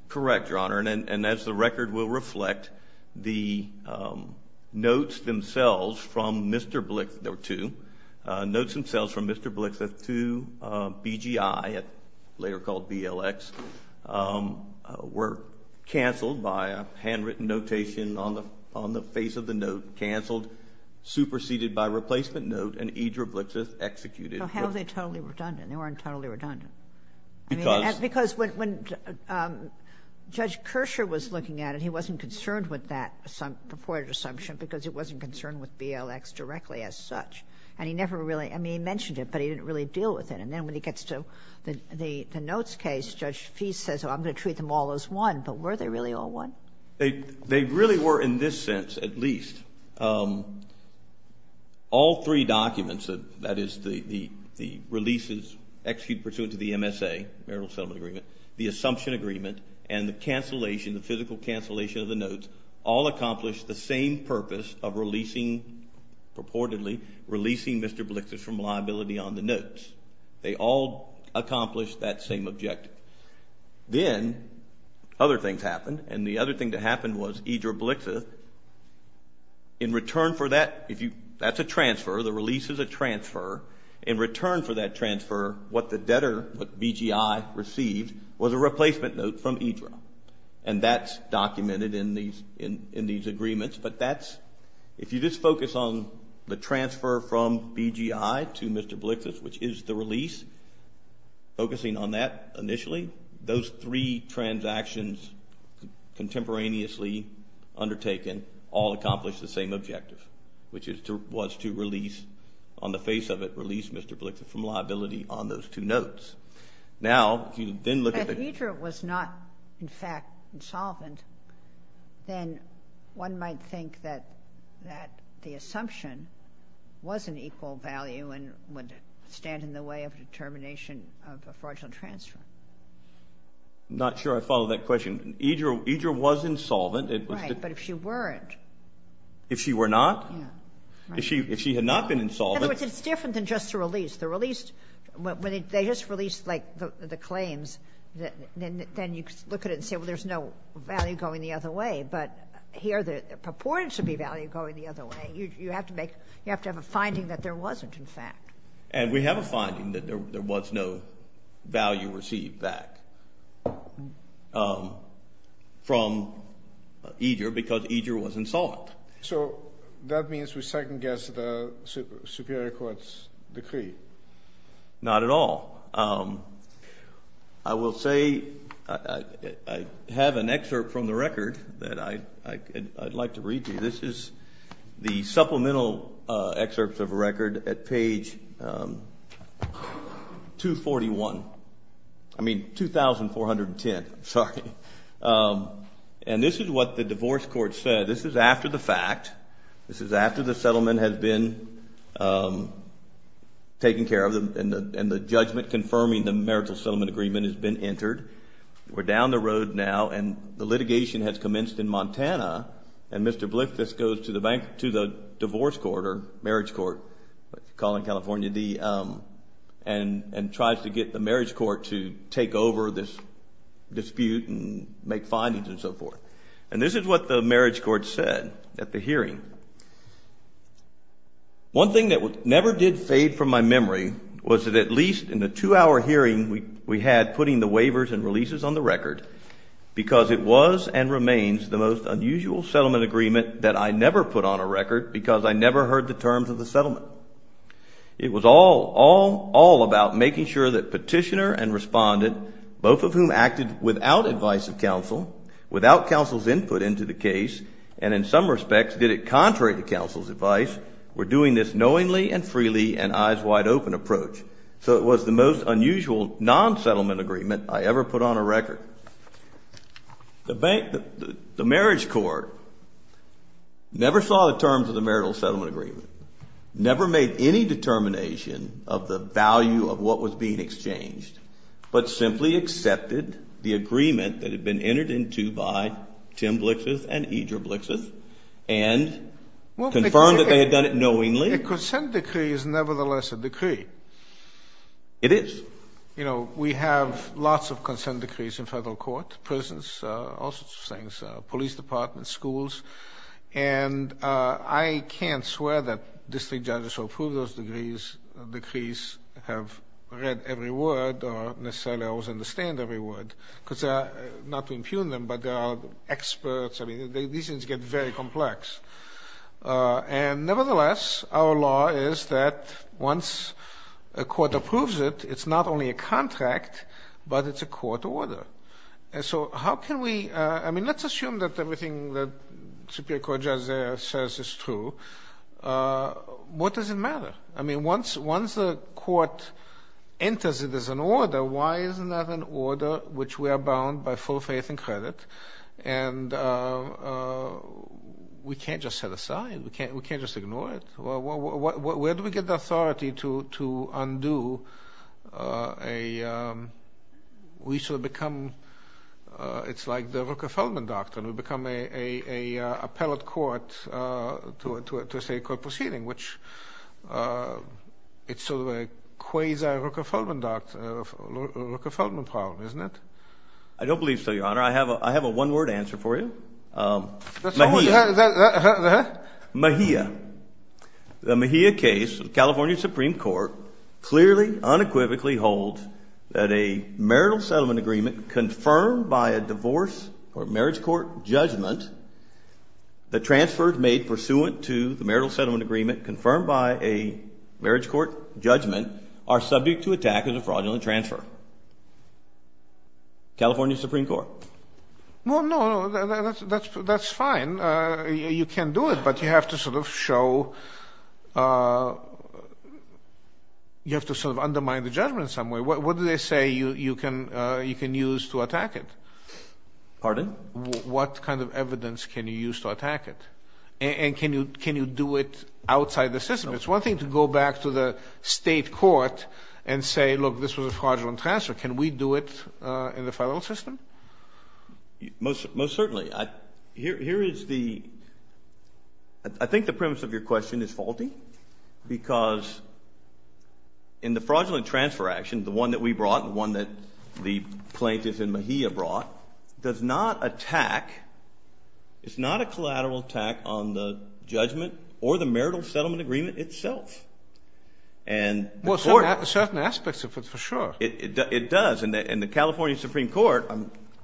Correct, Your Honor. And as the record will reflect, the notes themselves from Mr. Blix— Notes themselves from Mr. Blixith to BGI, later called BLX, were canceled by a handwritten notation on the face of the note, canceled, superseded by a replacement note, and Edger Blixith executed. So how are they totally redundant? They weren't totally redundant. Because? Because when Judge Kershaw was looking at it, he wasn't concerned with that purported assumption because he wasn't concerned with BLX directly as such. And he never really—I mean, he mentioned it, but he didn't really deal with it. And then when he gets to the notes case, Judge Feist says, well, I'm going to treat them all as one. But were they really all one? They really were in this sense, at least. All three documents, that is, the releases executed pursuant to the MSA, marital settlement agreement, the assumption agreement, and the cancellation, the physical cancellation of the notes, all accomplished the same purpose of releasing, purportedly, releasing Mr. Blixith from liability on the notes. They all accomplished that same objective. Then other things happened. And the other thing that happened was Edger Blixith, in return for that, that's a transfer, the release is a transfer. In return for that transfer, what the debtor, what BGI received, was a replacement note from Edger. And that's documented in these agreements. But that's—if you just focus on the transfer from BGI to Mr. Blixith, which is the release, focusing on that initially, those three transactions contemporaneously undertaken all accomplished the same objective, which was to release, on the face of it, release Mr. Blixith from liability on those two notes. If Edger was not, in fact, insolvent, then one might think that the assumption was an equal value and would stand in the way of determination of a fraudulent transfer. I'm not sure I follow that question. Edger was insolvent. Right, but if she weren't— If she were not? If she had not been insolvent— In other words, it's different than just the release. When they just released the claims, then you look at it and say, well, there's no value going the other way. But here the purported to be value going the other way. You have to have a finding that there wasn't, in fact. And we have a finding that there was no value received back from Edger because Edger was insolvent. So that means we second-guess the Superior Court's decree. Not at all. I will say I have an excerpt from the record that I'd like to read to you. This is the supplemental excerpt of a record at page 241. I mean, 2410, sorry. And this is what the divorce court said. This is after the fact. This is after the settlement has been taken care of and the judgment confirming the marital settlement agreement has been entered. We're down the road now, and the litigation has commenced in Montana, and Mr. Blithfuss goes to the divorce court or marriage court, calling California D, and tries to get the marriage court to take over this dispute and make findings and so forth. And this is what the marriage court said at the hearing. One thing that never did fade from my memory was that at least in the two-hour hearing we had putting the waivers and releases on the record because it was and remains the most unusual settlement agreement that I never put on a record because I never heard the terms of the settlement. It was all, all, all about making sure that petitioner and respondent, both of whom acted without advice of counsel, without counsel's input into the case, and in some respects did it contrary to counsel's advice, were doing this knowingly and freely and eyes wide open approach. So it was the most unusual non-settlement agreement I ever put on a record. The marriage court never saw the terms of the marital settlement agreement, never made any determination of the value of what was being exchanged, but simply accepted the agreement that had been entered into by Tim Blixeth and Idr Blixeth and confirmed that they had done it knowingly. A consent decree is nevertheless a decree. It is. You know, we have lots of consent decrees in federal court, prisons, all sorts of things, police departments, schools, and I can't swear that district judges who approve those decrees have read every word or necessarily always understand every word, not to impugn them, but they are experts. I mean, these things get very complex. And nevertheless, our law is that once a court approves it, it's not only a contract, but it's a court order. And so how can we, I mean, let's assume that everything that Superior Court Judiciary says is true. What does it matter? I mean, once a court enters it as an order, why is it not an order which we are bound by full faith and credit and we can't just set aside. We can't just ignore it. Where do we get the authority to undo a, we sort of become, it's like the Rucker-Feldman doctrine. We become an appellate court to a state court proceeding, which it's sort of a quasi-Rucker-Feldman problem, isn't it? I don't believe so, Your Honor. I have a one-word answer for you. The what? Mejia. The Mejia case, California Supreme Court, clearly, unequivocally holds that a marital settlement agreement confirmed by a divorce or marriage court judgment that transfers made pursuant to the marital settlement agreement confirmed by a marriage court judgment are subject to attack as a fraudulent transfer. California Supreme Court. Well, no, that's fine. You can do it, but you have to sort of show, you have to sort of undermine the judgment in some way. What do they say you can use to attack it? Pardon? What kind of evidence can you use to attack it? And can you do it outside the system? It's one thing to go back to the state court and say, look, this was a fraudulent transfer. Can we do it in the federal system? Most certainly. Here is the, I think the premise of your question is faulty, because in the fraudulent transfer action, the one that we brought, the one that the plaintiffs in Mejia brought, does not attack, it's not a collateral attack on the judgment or the marital settlement agreement itself. Well, certain aspects of it, for sure. It does, and the California Supreme Court,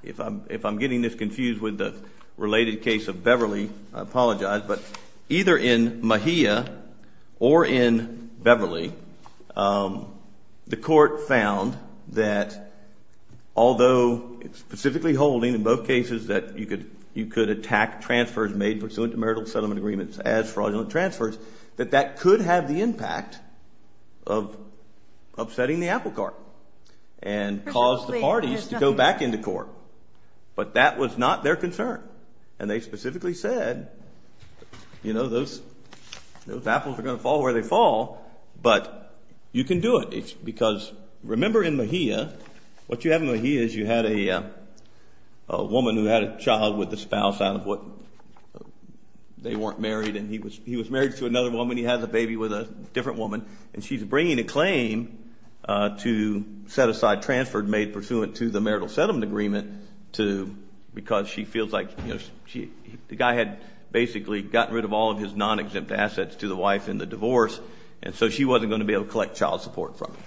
if I'm getting this confused with the related case of Beverly, I apologize, but either in Mejia or in Beverly, the court found that although it's specifically holding in both cases that you could attack transfers made pursuant to marital settlement agreements as fraudulent transfers, that that could have the impact of upsetting the apple cart and cause the parties to go back into court. But that was not their concern, and they specifically said, you know, those apples are going to fall where they fall, but you can do it, because remember in Mejia, what you have in Mejia is you had a woman who had a child with the spouse out of what they weren't married, and he was married to another woman, he had the baby with a different woman, and she's bringing a claim to set aside transfer made pursuant to the marital settlement agreement because she feels like the guy had basically gotten rid of all of his non-exempt assets to the wife in the divorce, and so she wasn't going to be able to collect child support from him.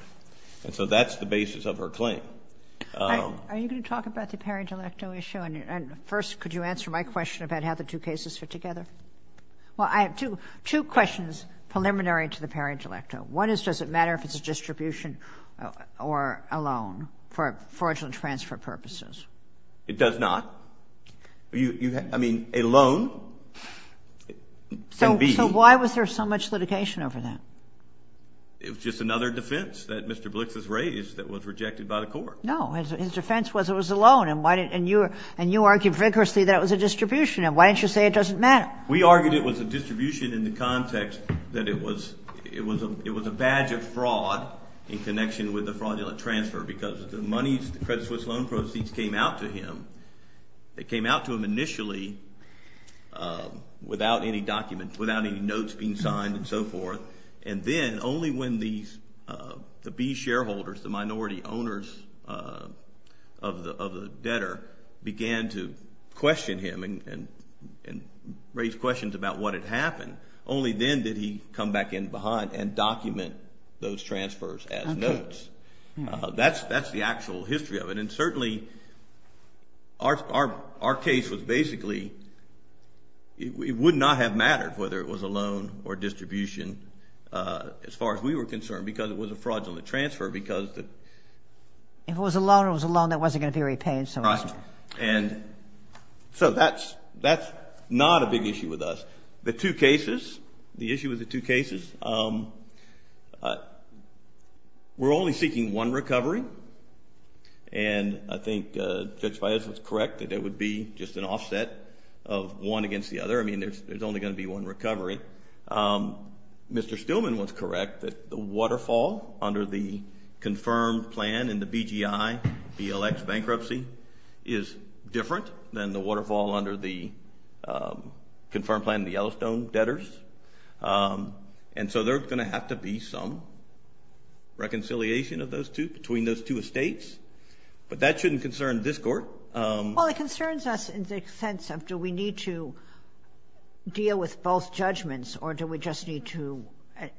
And so that's the basis of her claim. Are you going to talk about the parent-electo issue? And first, could you answer my question about how the two cases fit together? Well, I have two questions preliminary to the parent-electo. One is, does it matter if it's a distribution or a loan for fraudulent transfer purposes? It does not. I mean, a loan can be... So why was there so much litigation over that? It was just another defense that Mr. Blix has raised that was rejected by the court. No, his defense was it was a loan, and you argued vigorously that it was a distribution, and why didn't you say it doesn't matter? We argued it was a distribution in the context that it was a badge of fraud in connection with a fraudulent transfer because the money, the FedSwiss loan proceeds came out to him. It came out to him initially without any documents, without any notes being signed and so forth, and then only when the B shareholders, the minority owners of the debtor, began to question him and raise questions about what had happened, only then did he come back in behind and document those transfers as notes. That's the actual history of it, and certainly our case was basically... It would not have mattered whether it was a loan or distribution as far as we were concerned because it was a fraudulent transfer because... It was a loan or it was a loan that wasn't going to be repaid, so... Right, and so that's not a big issue with us. The two cases, the issue with the two cases, we're only seeking one recovery, and I think Judge Baez was correct that it would be just an offset of one against the other. I mean, there's only going to be one recovery. Mr. Stillman was correct that the waterfall under the confirmed plan in the BGI BLX bankruptcy is different than the waterfall under the confirmed plan in the Yellowstone debtors, and so there's going to have to be some reconciliation of those two, between those two estates, but that shouldn't concern this court. Well, it concerns us in the sense of do we need to deal with both judgments or do we just need to...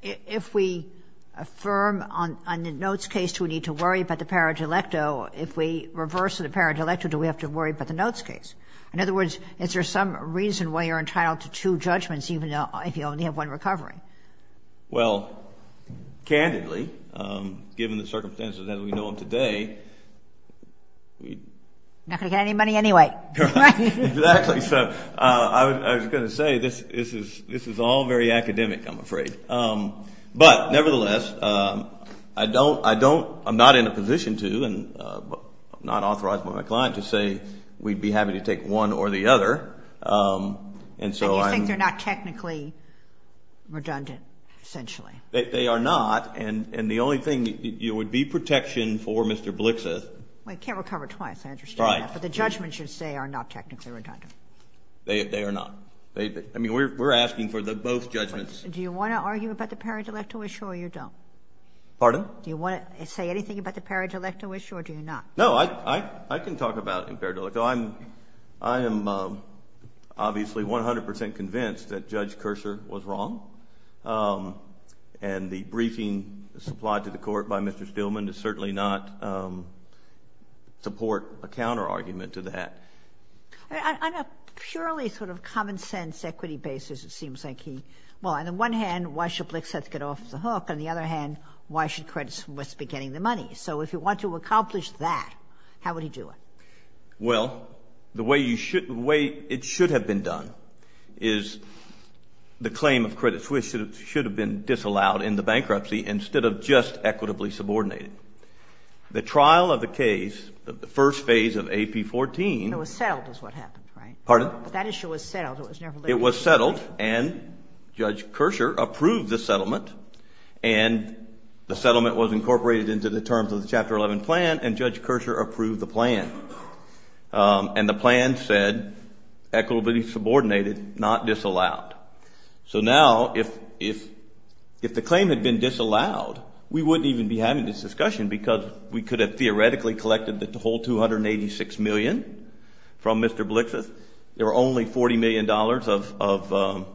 If we affirm on the notes case, do we need to worry about the paragilepto? If we reverse the paragilepto, do we have to worry about the notes case? In other words, is there some reason why you're entitled to two judgments even though you only have one recovery? Well, candidly, given the circumstances as we know them today... You're not going to get any money anyway. That's because I was going to say this is all very academic, I'm afraid, but nevertheless, I'm not in a position to, and I'm not authorized by my client, to say we'd be happy to take one or the other. And you think they're not technically redundant, essentially? They are not, and the only thing would be protection for Mr. Blixa. Well, he can't recover twice, I understand that, but the judgments you say are not technically redundant. They are not. I mean, we're asking for both judgments. Do you want to argue about the paragilepto issue or you don't? Pardon? Do you want to say anything about the paragilepto issue or do you not? No, I can talk about the paragilepto. I am obviously 100% convinced that Judge Kurser was wrong, and the briefing supplied to the court by Mr. Stillman does certainly not support a counterargument to that. On a purely sort of common-sense equity basis, it seems like he – well, on the one hand, why should Blixa get off the hook? On the other hand, why should Credit Suisse be getting the money? So if he wants to accomplish that, how would he do it? Well, the way it should have been done is the claim of Credit Suisse should have been disallowed in the bankruptcy instead of just equitably subordinated. The trial of the case, the first phase of AP 14 – It was settled is what happened, right? Pardon? That issue was settled. It was settled, and Judge Kurser approved the settlement, and the settlement was incorporated into the terms of the Chapter 11 plan, and Judge Kurser approved the plan. And the plan said equitably subordinated, not disallowed. So now if the claim had been disallowed, we wouldn't even be having this discussion because we could have theoretically collected the whole $286 million from Mr. Blixa. There were only $40 million of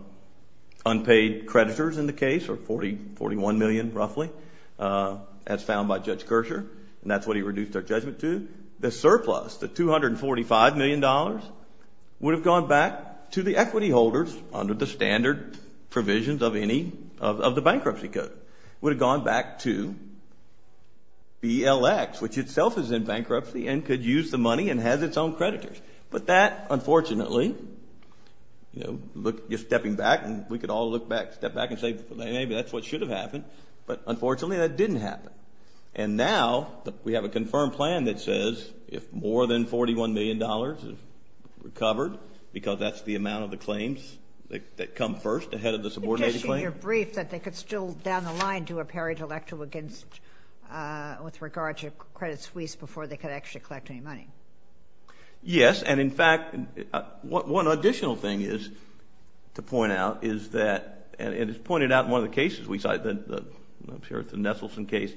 unpaid creditors in the case, or $41 million roughly, as found by Judge Kurser, and that's what he reduced our judgment to. The surplus, the $245 million, would have gone back to the equity holders under the standard provisions of the bankruptcy code. It would have gone back to ELX, which itself is in bankruptcy and could use the money and has its own creditors. But that, unfortunately, you're stepping back, and we could all look back, step back and say maybe that's what should have happened, but unfortunately that didn't happen. And now we have a confirmed plan that says if more than $41 million is recovered, because that's the amount of the claims that come first ahead of the subordinated claim. But you're saying you're briefed that they could still, down the line, do a paragraph against with regard to a credit suite before they could actually collect any money. Yes, and in fact, one additional thing to point out is that, and it's pointed out in one of the cases we cited, I'm sure it's the Nesselson case,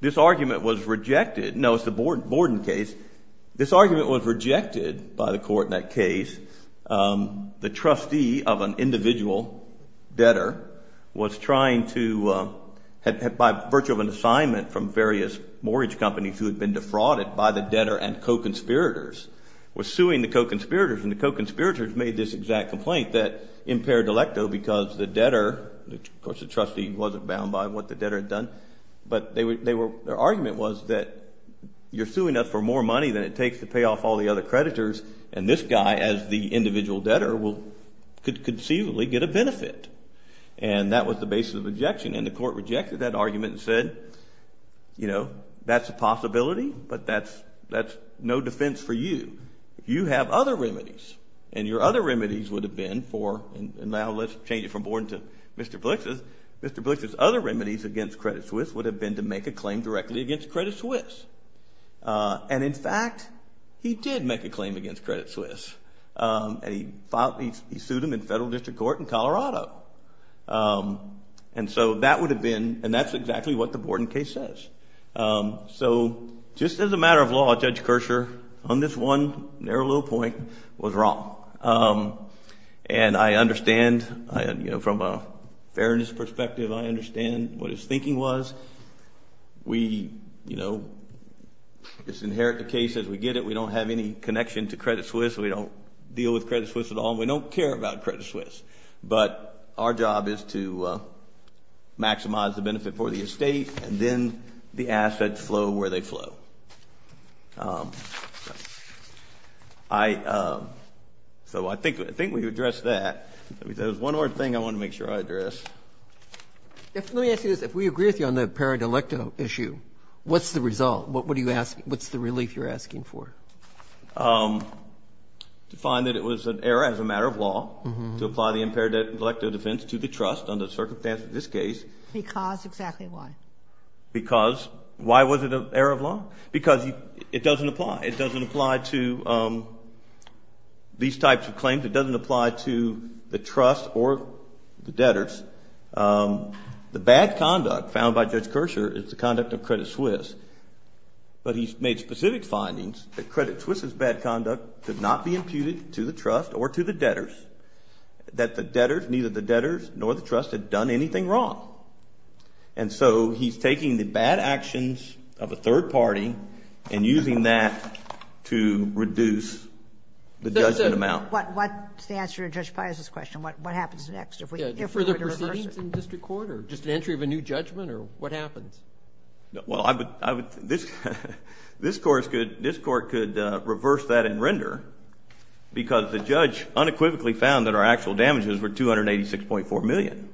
this argument was rejected, no, it's the Borden case, this argument was rejected by the court in that case. The trustee of an individual debtor was trying to, by virtue of an assignment from various mortgage companies who had been defrauded by the debtor and co-conspirators, was suing the co-conspirators, and the co-conspirators made this exact complaint that impaired delecto because the debtor, of course the trustee wasn't bound by what the debtor had done, but their argument was that you're suing us for more money than it takes to pay off all the other creditors, and this guy as the individual debtor could conceivably get a benefit. And that was the basis of the objection, and the court rejected that argument and said, you know, that's a possibility, but that's no defense for you. You have other remedies, and your other remedies would have been for, and now let's change it from Borden to Mr. Blix's, Mr. Blix's other remedies against Credit Suisse would have been to make a claim directly against Credit Suisse. And in fact, he did make a claim against Credit Suisse, And so that would have been, and that's exactly what the Borden case says. So, just as a matter of law, Judge Kircher, on this one narrow little point, was wrong. And I understand, you know, from a fairness perspective, I understand what his thinking was. We, you know, just inherit the case as we get it. We don't have any connection to Credit Suisse. We don't deal with Credit Suisse at all. We don't care about Credit Suisse. But our job is to maximize the benefit for the estate, and then the assets flow where they flow. So I think we've addressed that. There's one more thing I want to make sure I address. Let me ask you this. If we agree with you on the parent-elect issue, what's the result? What's the relief you're asking for? To find that it was an error as a matter of law to apply the impaired debt and collective defense to the trust, under the circumstances of this case. Because, exactly why? Because, why was it an error of law? Because it doesn't apply. It doesn't apply to these types of claims. It doesn't apply to the trust or the debtors. The bad conduct found by Judge Kircher is the conduct of Credit Suisse. But he's made specific findings that Credit Suisse's bad conduct did not be imputed to the trust or to the debtors, that neither the debtors nor the trust had done anything wrong. And so he's taking the bad actions of a third party and using that to reduce the judgment amount. What's the answer to Judge Pius's question? What happens next? For the proceedings in district court, or just the entry of a new judgment, or what happens? Well, this court could reverse that and render, because the judge unequivocally found that our actual damages were $286.4 million.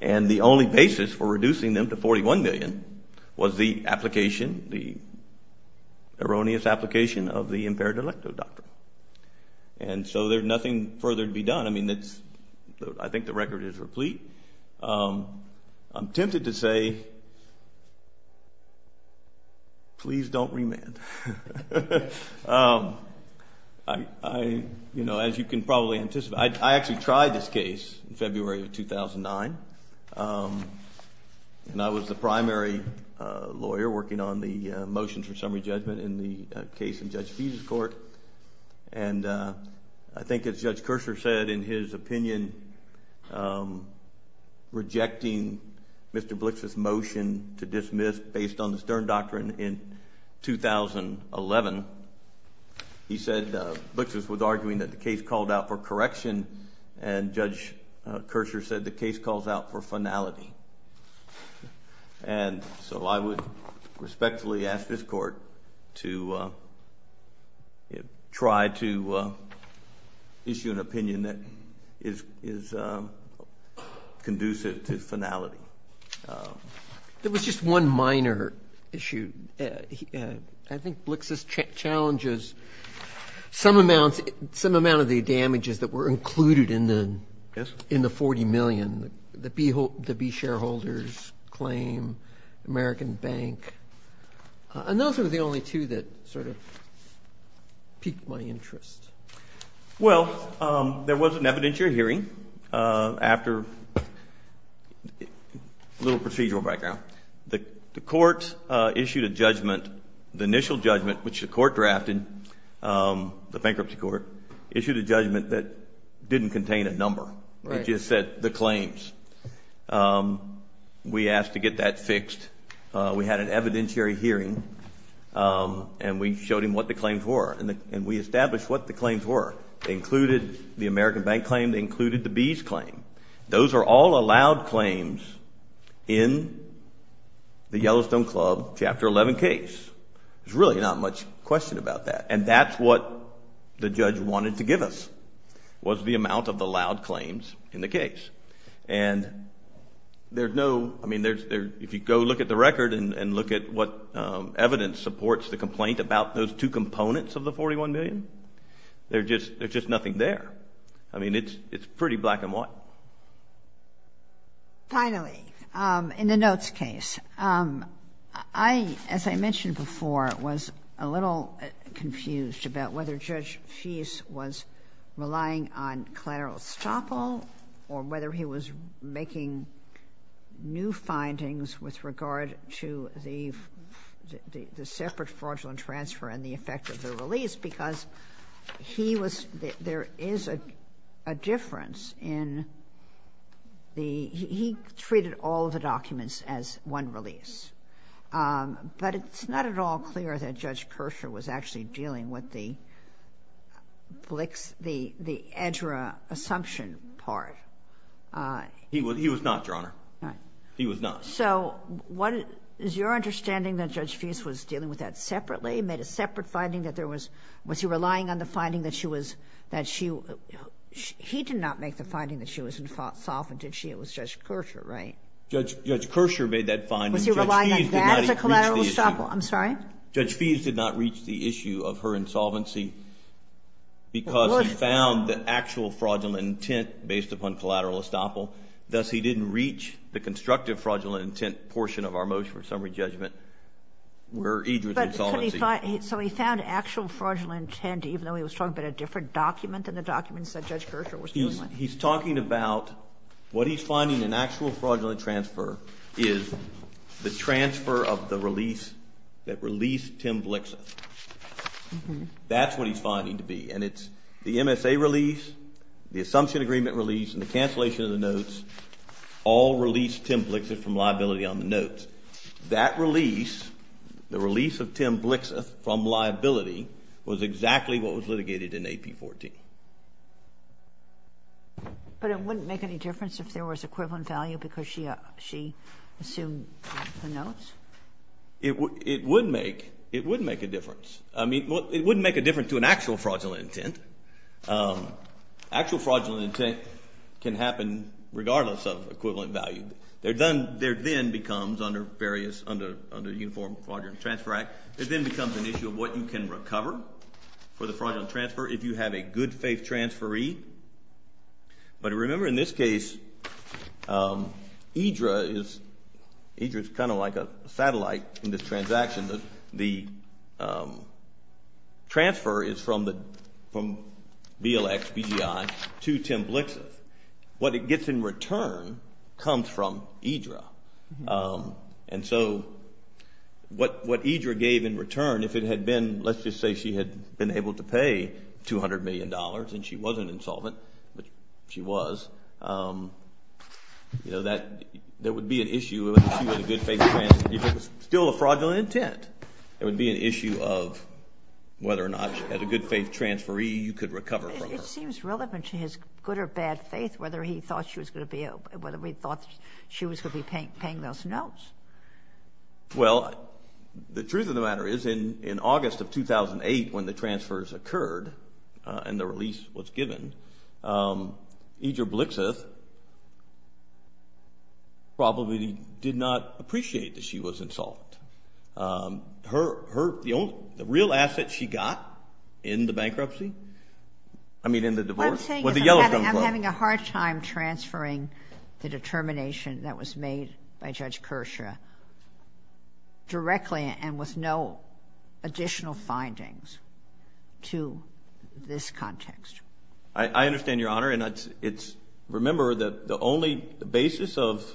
And the only basis for reducing them to $41 million was the application, the erroneous application of the impaired delecto doctrine. And so there's nothing further to be done. I mean, I think the record is complete. I'm tempted to say, please don't remand. You know, as you can probably anticipate, I actually tried this case in February of 2009. And I was the primary lawyer working on the motion for summary judgment in the case in Judge Pius's court. And I think as Judge Kircher said in his opinion, rejecting Mr. Blix's motion to dismiss based on the stern doctrine in 2011, he said Blix was arguing that the case called out for correction, and Judge Kircher said the case calls out for finality. And so I would respectfully ask this court to try to issue an opinion that is conducive to finality. There was just one minor issue. I think Blix's challenge is some amount of the damages that were included in the $40 million, the B shareholders' claim, American Bank. And those are the only two that sort of piqued my interest. Well, there was an evidentiary hearing after a little procedural background. The court issued a judgment, the initial judgment, which the court drafted, the bankruptcy court, issued a judgment that didn't contain a number. It just said the claims. We asked to get that fixed. We had an evidentiary hearing, and we showed him what the claims were, and we established what the claims were. They included the American Bank claim. They included the B's claim. Those are all allowed claims in the Yellowstone Club Chapter 11 case. There's really not much question about that. And that's what the judge wanted to give us, was the amount of allowed claims in the case. And there's no, I mean, if you go look at the record and look at what evidence supports the complaint about those two components of the $41 million, there's just nothing there. I mean, it's pretty black and white. Finally, in the notes case, I, as I mentioned before, was a little confused about whether Judge Feist was relying on collateral estoppel or whether he was making new findings with regard to the separate fraudulent transfer and the effect of the release, because he was... There is a difference in the... He treated all the documents as one release. But it's not at all clear that Judge Kircher was actually dealing with the EDRA assumption part. He was not, Your Honour. He was not. So is your understanding that Judge Feist was dealing with that separately, made a separate finding that there was... Was he relying on the finding that she was... He did not make the finding that she was in fault and did she? It was Judge Kircher, right? Judge Kircher made that finding. Was he relying on that as a collateral estoppel? I'm sorry? Judge Feist did not reach the issue of her insolvency because he found the actual fraudulent intent based upon collateral estoppel. Thus, he didn't reach the constructive fraudulent intent portion of our motion for summary judgment where EDRA's insolvency... So he found actual fraudulent intent even though he was talking about a different document than the documents that Judge Kircher was dealing with? He's talking about what he's finding in actual fraudulent transfer is the transfer of the release that released Tim Blixeth. That's what he's finding to be. And it's the MSA release, the assumption agreement release, and the cancellation of the notes all released Tim Blixeth from liability on the notes. That release, the release of Tim Blixeth from liability, was exactly what was litigated in AP 14. But it wouldn't make any difference if there was equivalent value because she assumed the notes? It would make a difference. I mean, it wouldn't make a difference to an actual fraudulent intent. Actual fraudulent intent can happen regardless of equivalent value. There then becomes, under the Uniform Fraudulent Transfer Act, there then becomes an issue of what you can recover for the fraudulent transfer if you have a good faith transferee. But remember, in this case, IDRA is kind of like a satellite in this transaction. The transfer is from BLX, BDI, to Tim Blixeth. What it gets in return comes from IDRA. And so what IDRA gave in return, if it had been, let's just say she had been able to pay $200 million and she wasn't insolvent, but she was, there would be an issue if she was a good faith transferee. If it was still a fraudulent intent, there would be an issue of whether or not, as a good faith transferee, you could recover from that. It seems relevant to his good or bad faith, whether he thought she was going to be paying those notes. Well, the truth of the matter is, in August of 2008, when the transfers occurred and the release was given, IDRA Blixeth probably did not appreciate that she was insolvent. The real asset she got in the bankruptcy, I mean in the divorce, was the Yellow Sun Club. I'm having a hard time transferring the determination that was made by Judge Kershaw directly and with no additional findings to this context. I understand, Your Honor. Remember that the only basis of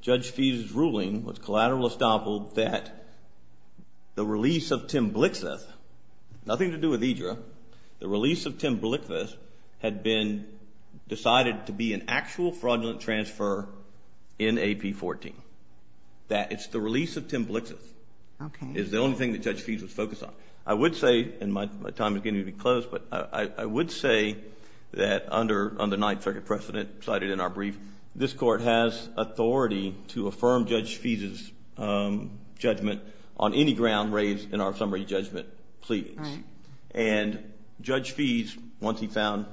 Judge Fee's ruling was collateral estoppel that the release of Tim Blixeth, nothing to do with IDRA, the release of Tim Blixeth had been decided to be an actual fraudulent transfer in AP14. That it's the release of Tim Blixeth is the only thing that Judge Fee's was focused on. I would say, and my time is getting to be close, but I would say that under the ninth record precedent cited in our brief, this Court has authority to affirm Judge Fee's judgment on any ground raised in our summary judgment plea. And Judge Fee's, once he found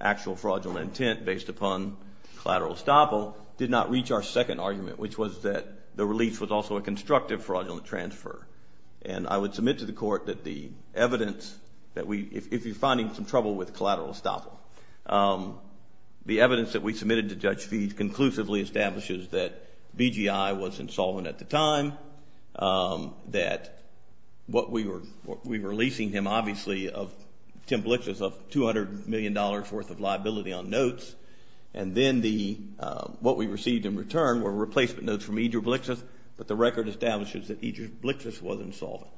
actual fraudulent intent based upon collateral estoppel, did not reach our second argument, which was that the release was also a constructive fraudulent transfer. And I would submit to the Court that the evidence that we, if you're finding some trouble with collateral estoppel, the evidence that we submitted to Judge Fee conclusively establishes that BGI was insolvent at the time, that what we were releasing him, obviously, of Tim Blixeth of $200 million worth of liability on notes, and then what we received in return were replacement notes from Idra Blixeth, but the record establishes that Idra Blixeth was insolvent.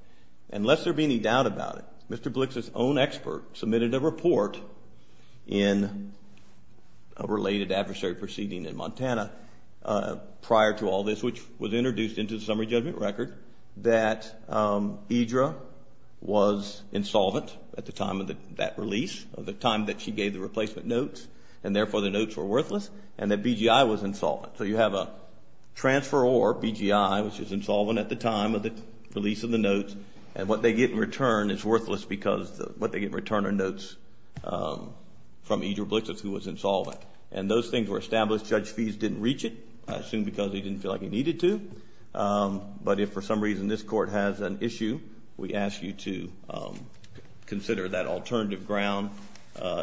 And lest there be any doubt about it, Mr. Blixeth's own expert submitted a report in a related adversary proceeding in Montana prior to all this, which was introduced into the summary judgment record, that Idra was insolvent at the time of that release, at the time that she gave the replacement notes, and therefore the notes were worthless, and that BGI was insolvent. So you have a transferor, BGI, which was insolvent at the time of the release of the notes, and what they get in return is worthless because what they get in return are notes from Idra Blixeth, who was insolvent. And those things were established. Judge Fee didn't reach it, I assume because he didn't feel like he needed to. But if for some reason this Court has an issue, we ask you to consider that alternative ground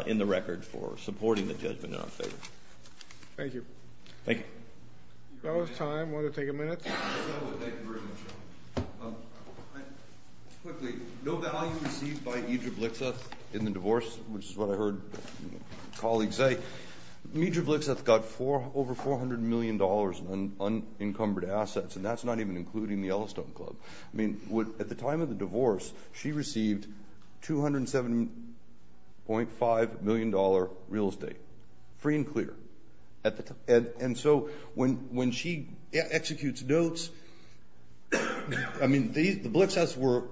in the record for supporting the judgment in our favor. Thank you. Thank you. We've got a little time. Want to take a minute? No, thank you very much, Your Honor. Quickly, no value received by Idra Blixeth in the divorce, which is what I heard colleagues say. Idra Blixeth got over $400 million in unencumbered assets, and that's not even including the Yellowstone Club. I mean, at the time of the divorce, she received $207.5 million real estate, free and clear. And so when she executes notes, I mean, the Blixeths were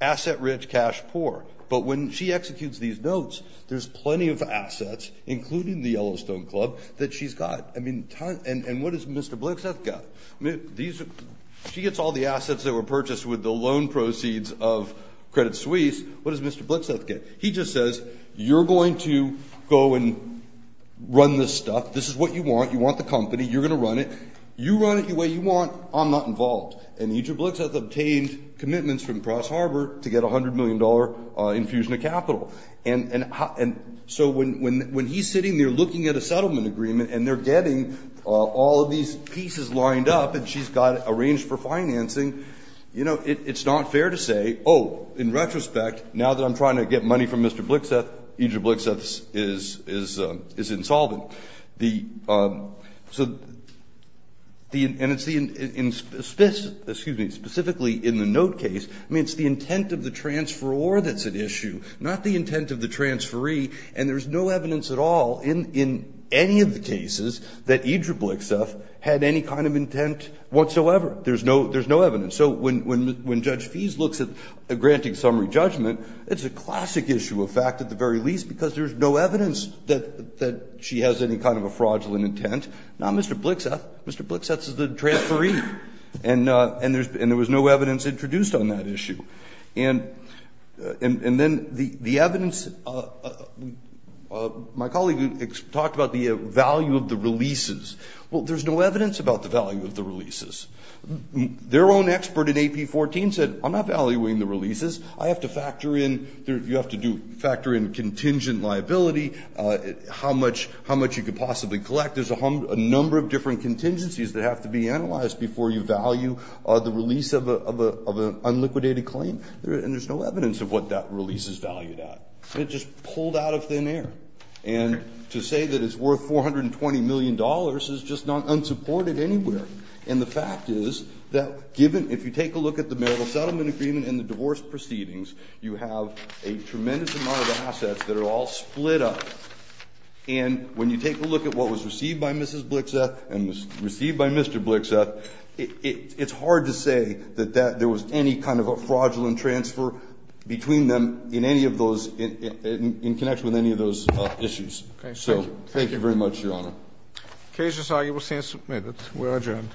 asset-rich, cash-poor. But when she executes these notes, there's plenty of assets, including the Yellowstone Club, that she's got. I mean, and what has Mr. Blixeth got? She gets all the assets that were purchased with the loan proceeds of Credit Suisse. What does Mr. Blixeth get? He just says, you're going to go and run this stuff. This is what you want. You want the company. You're going to run it. You run it the way you want. I'm not involved. And Idra Blixeth obtained commitments from Cross Harbor to get a $100 million infusion of capital. And so when he's sitting there looking at a settlement agreement and they're getting all of these pieces lined up and she's got it arranged for financing, it's not fair to say, oh, in retrospect, now that I'm trying to get money from Mr. Blixeth, Idra Blixeth is insolvent. Specifically in the note case, I mean, it's the intent of the transferor that's at issue, not the intent of the transferee. And there's no evidence at all in any of the cases that Idra Blixeth had any kind of intent whatsoever. There's no evidence. So when Judge Feese looks at granting summary judgment, it's a classic issue of fact at the very least because there's no evidence that she has any kind of a fraudulent intent. Not Mr. Blixeth. Mr. Blixeth is the transferee. And there was no evidence introduced on that issue. And then the evidence, my colleague talked about the value of the releases. Well, there's no evidence about the value of the releases. Their own expert in AP14 said, I'm not valuing the releases. I have to factor in, you have to factor in contingent liability, how much you could possibly collect. There's a number of different contingencies that have to be analyzed before you value the release of an unliquidated claim. And there's no evidence of what that release is valued at. It just pulled out of thin air. And to say that it's worth $420 million is just not unsupported anywhere. And the fact is that if you take a look at the marital settlement agreement and the divorce proceedings, you have a tremendous amount of assets that are all split up. And when you take a look at what was received by Mrs. Blixeth and was received by Mr. Blixeth, it's hard to say that there was any kind of a fraudulent transfer between them in connection with any of those issues. So thank you very much, Your Honor. Occasions are you will stand submitted. We are adjourned.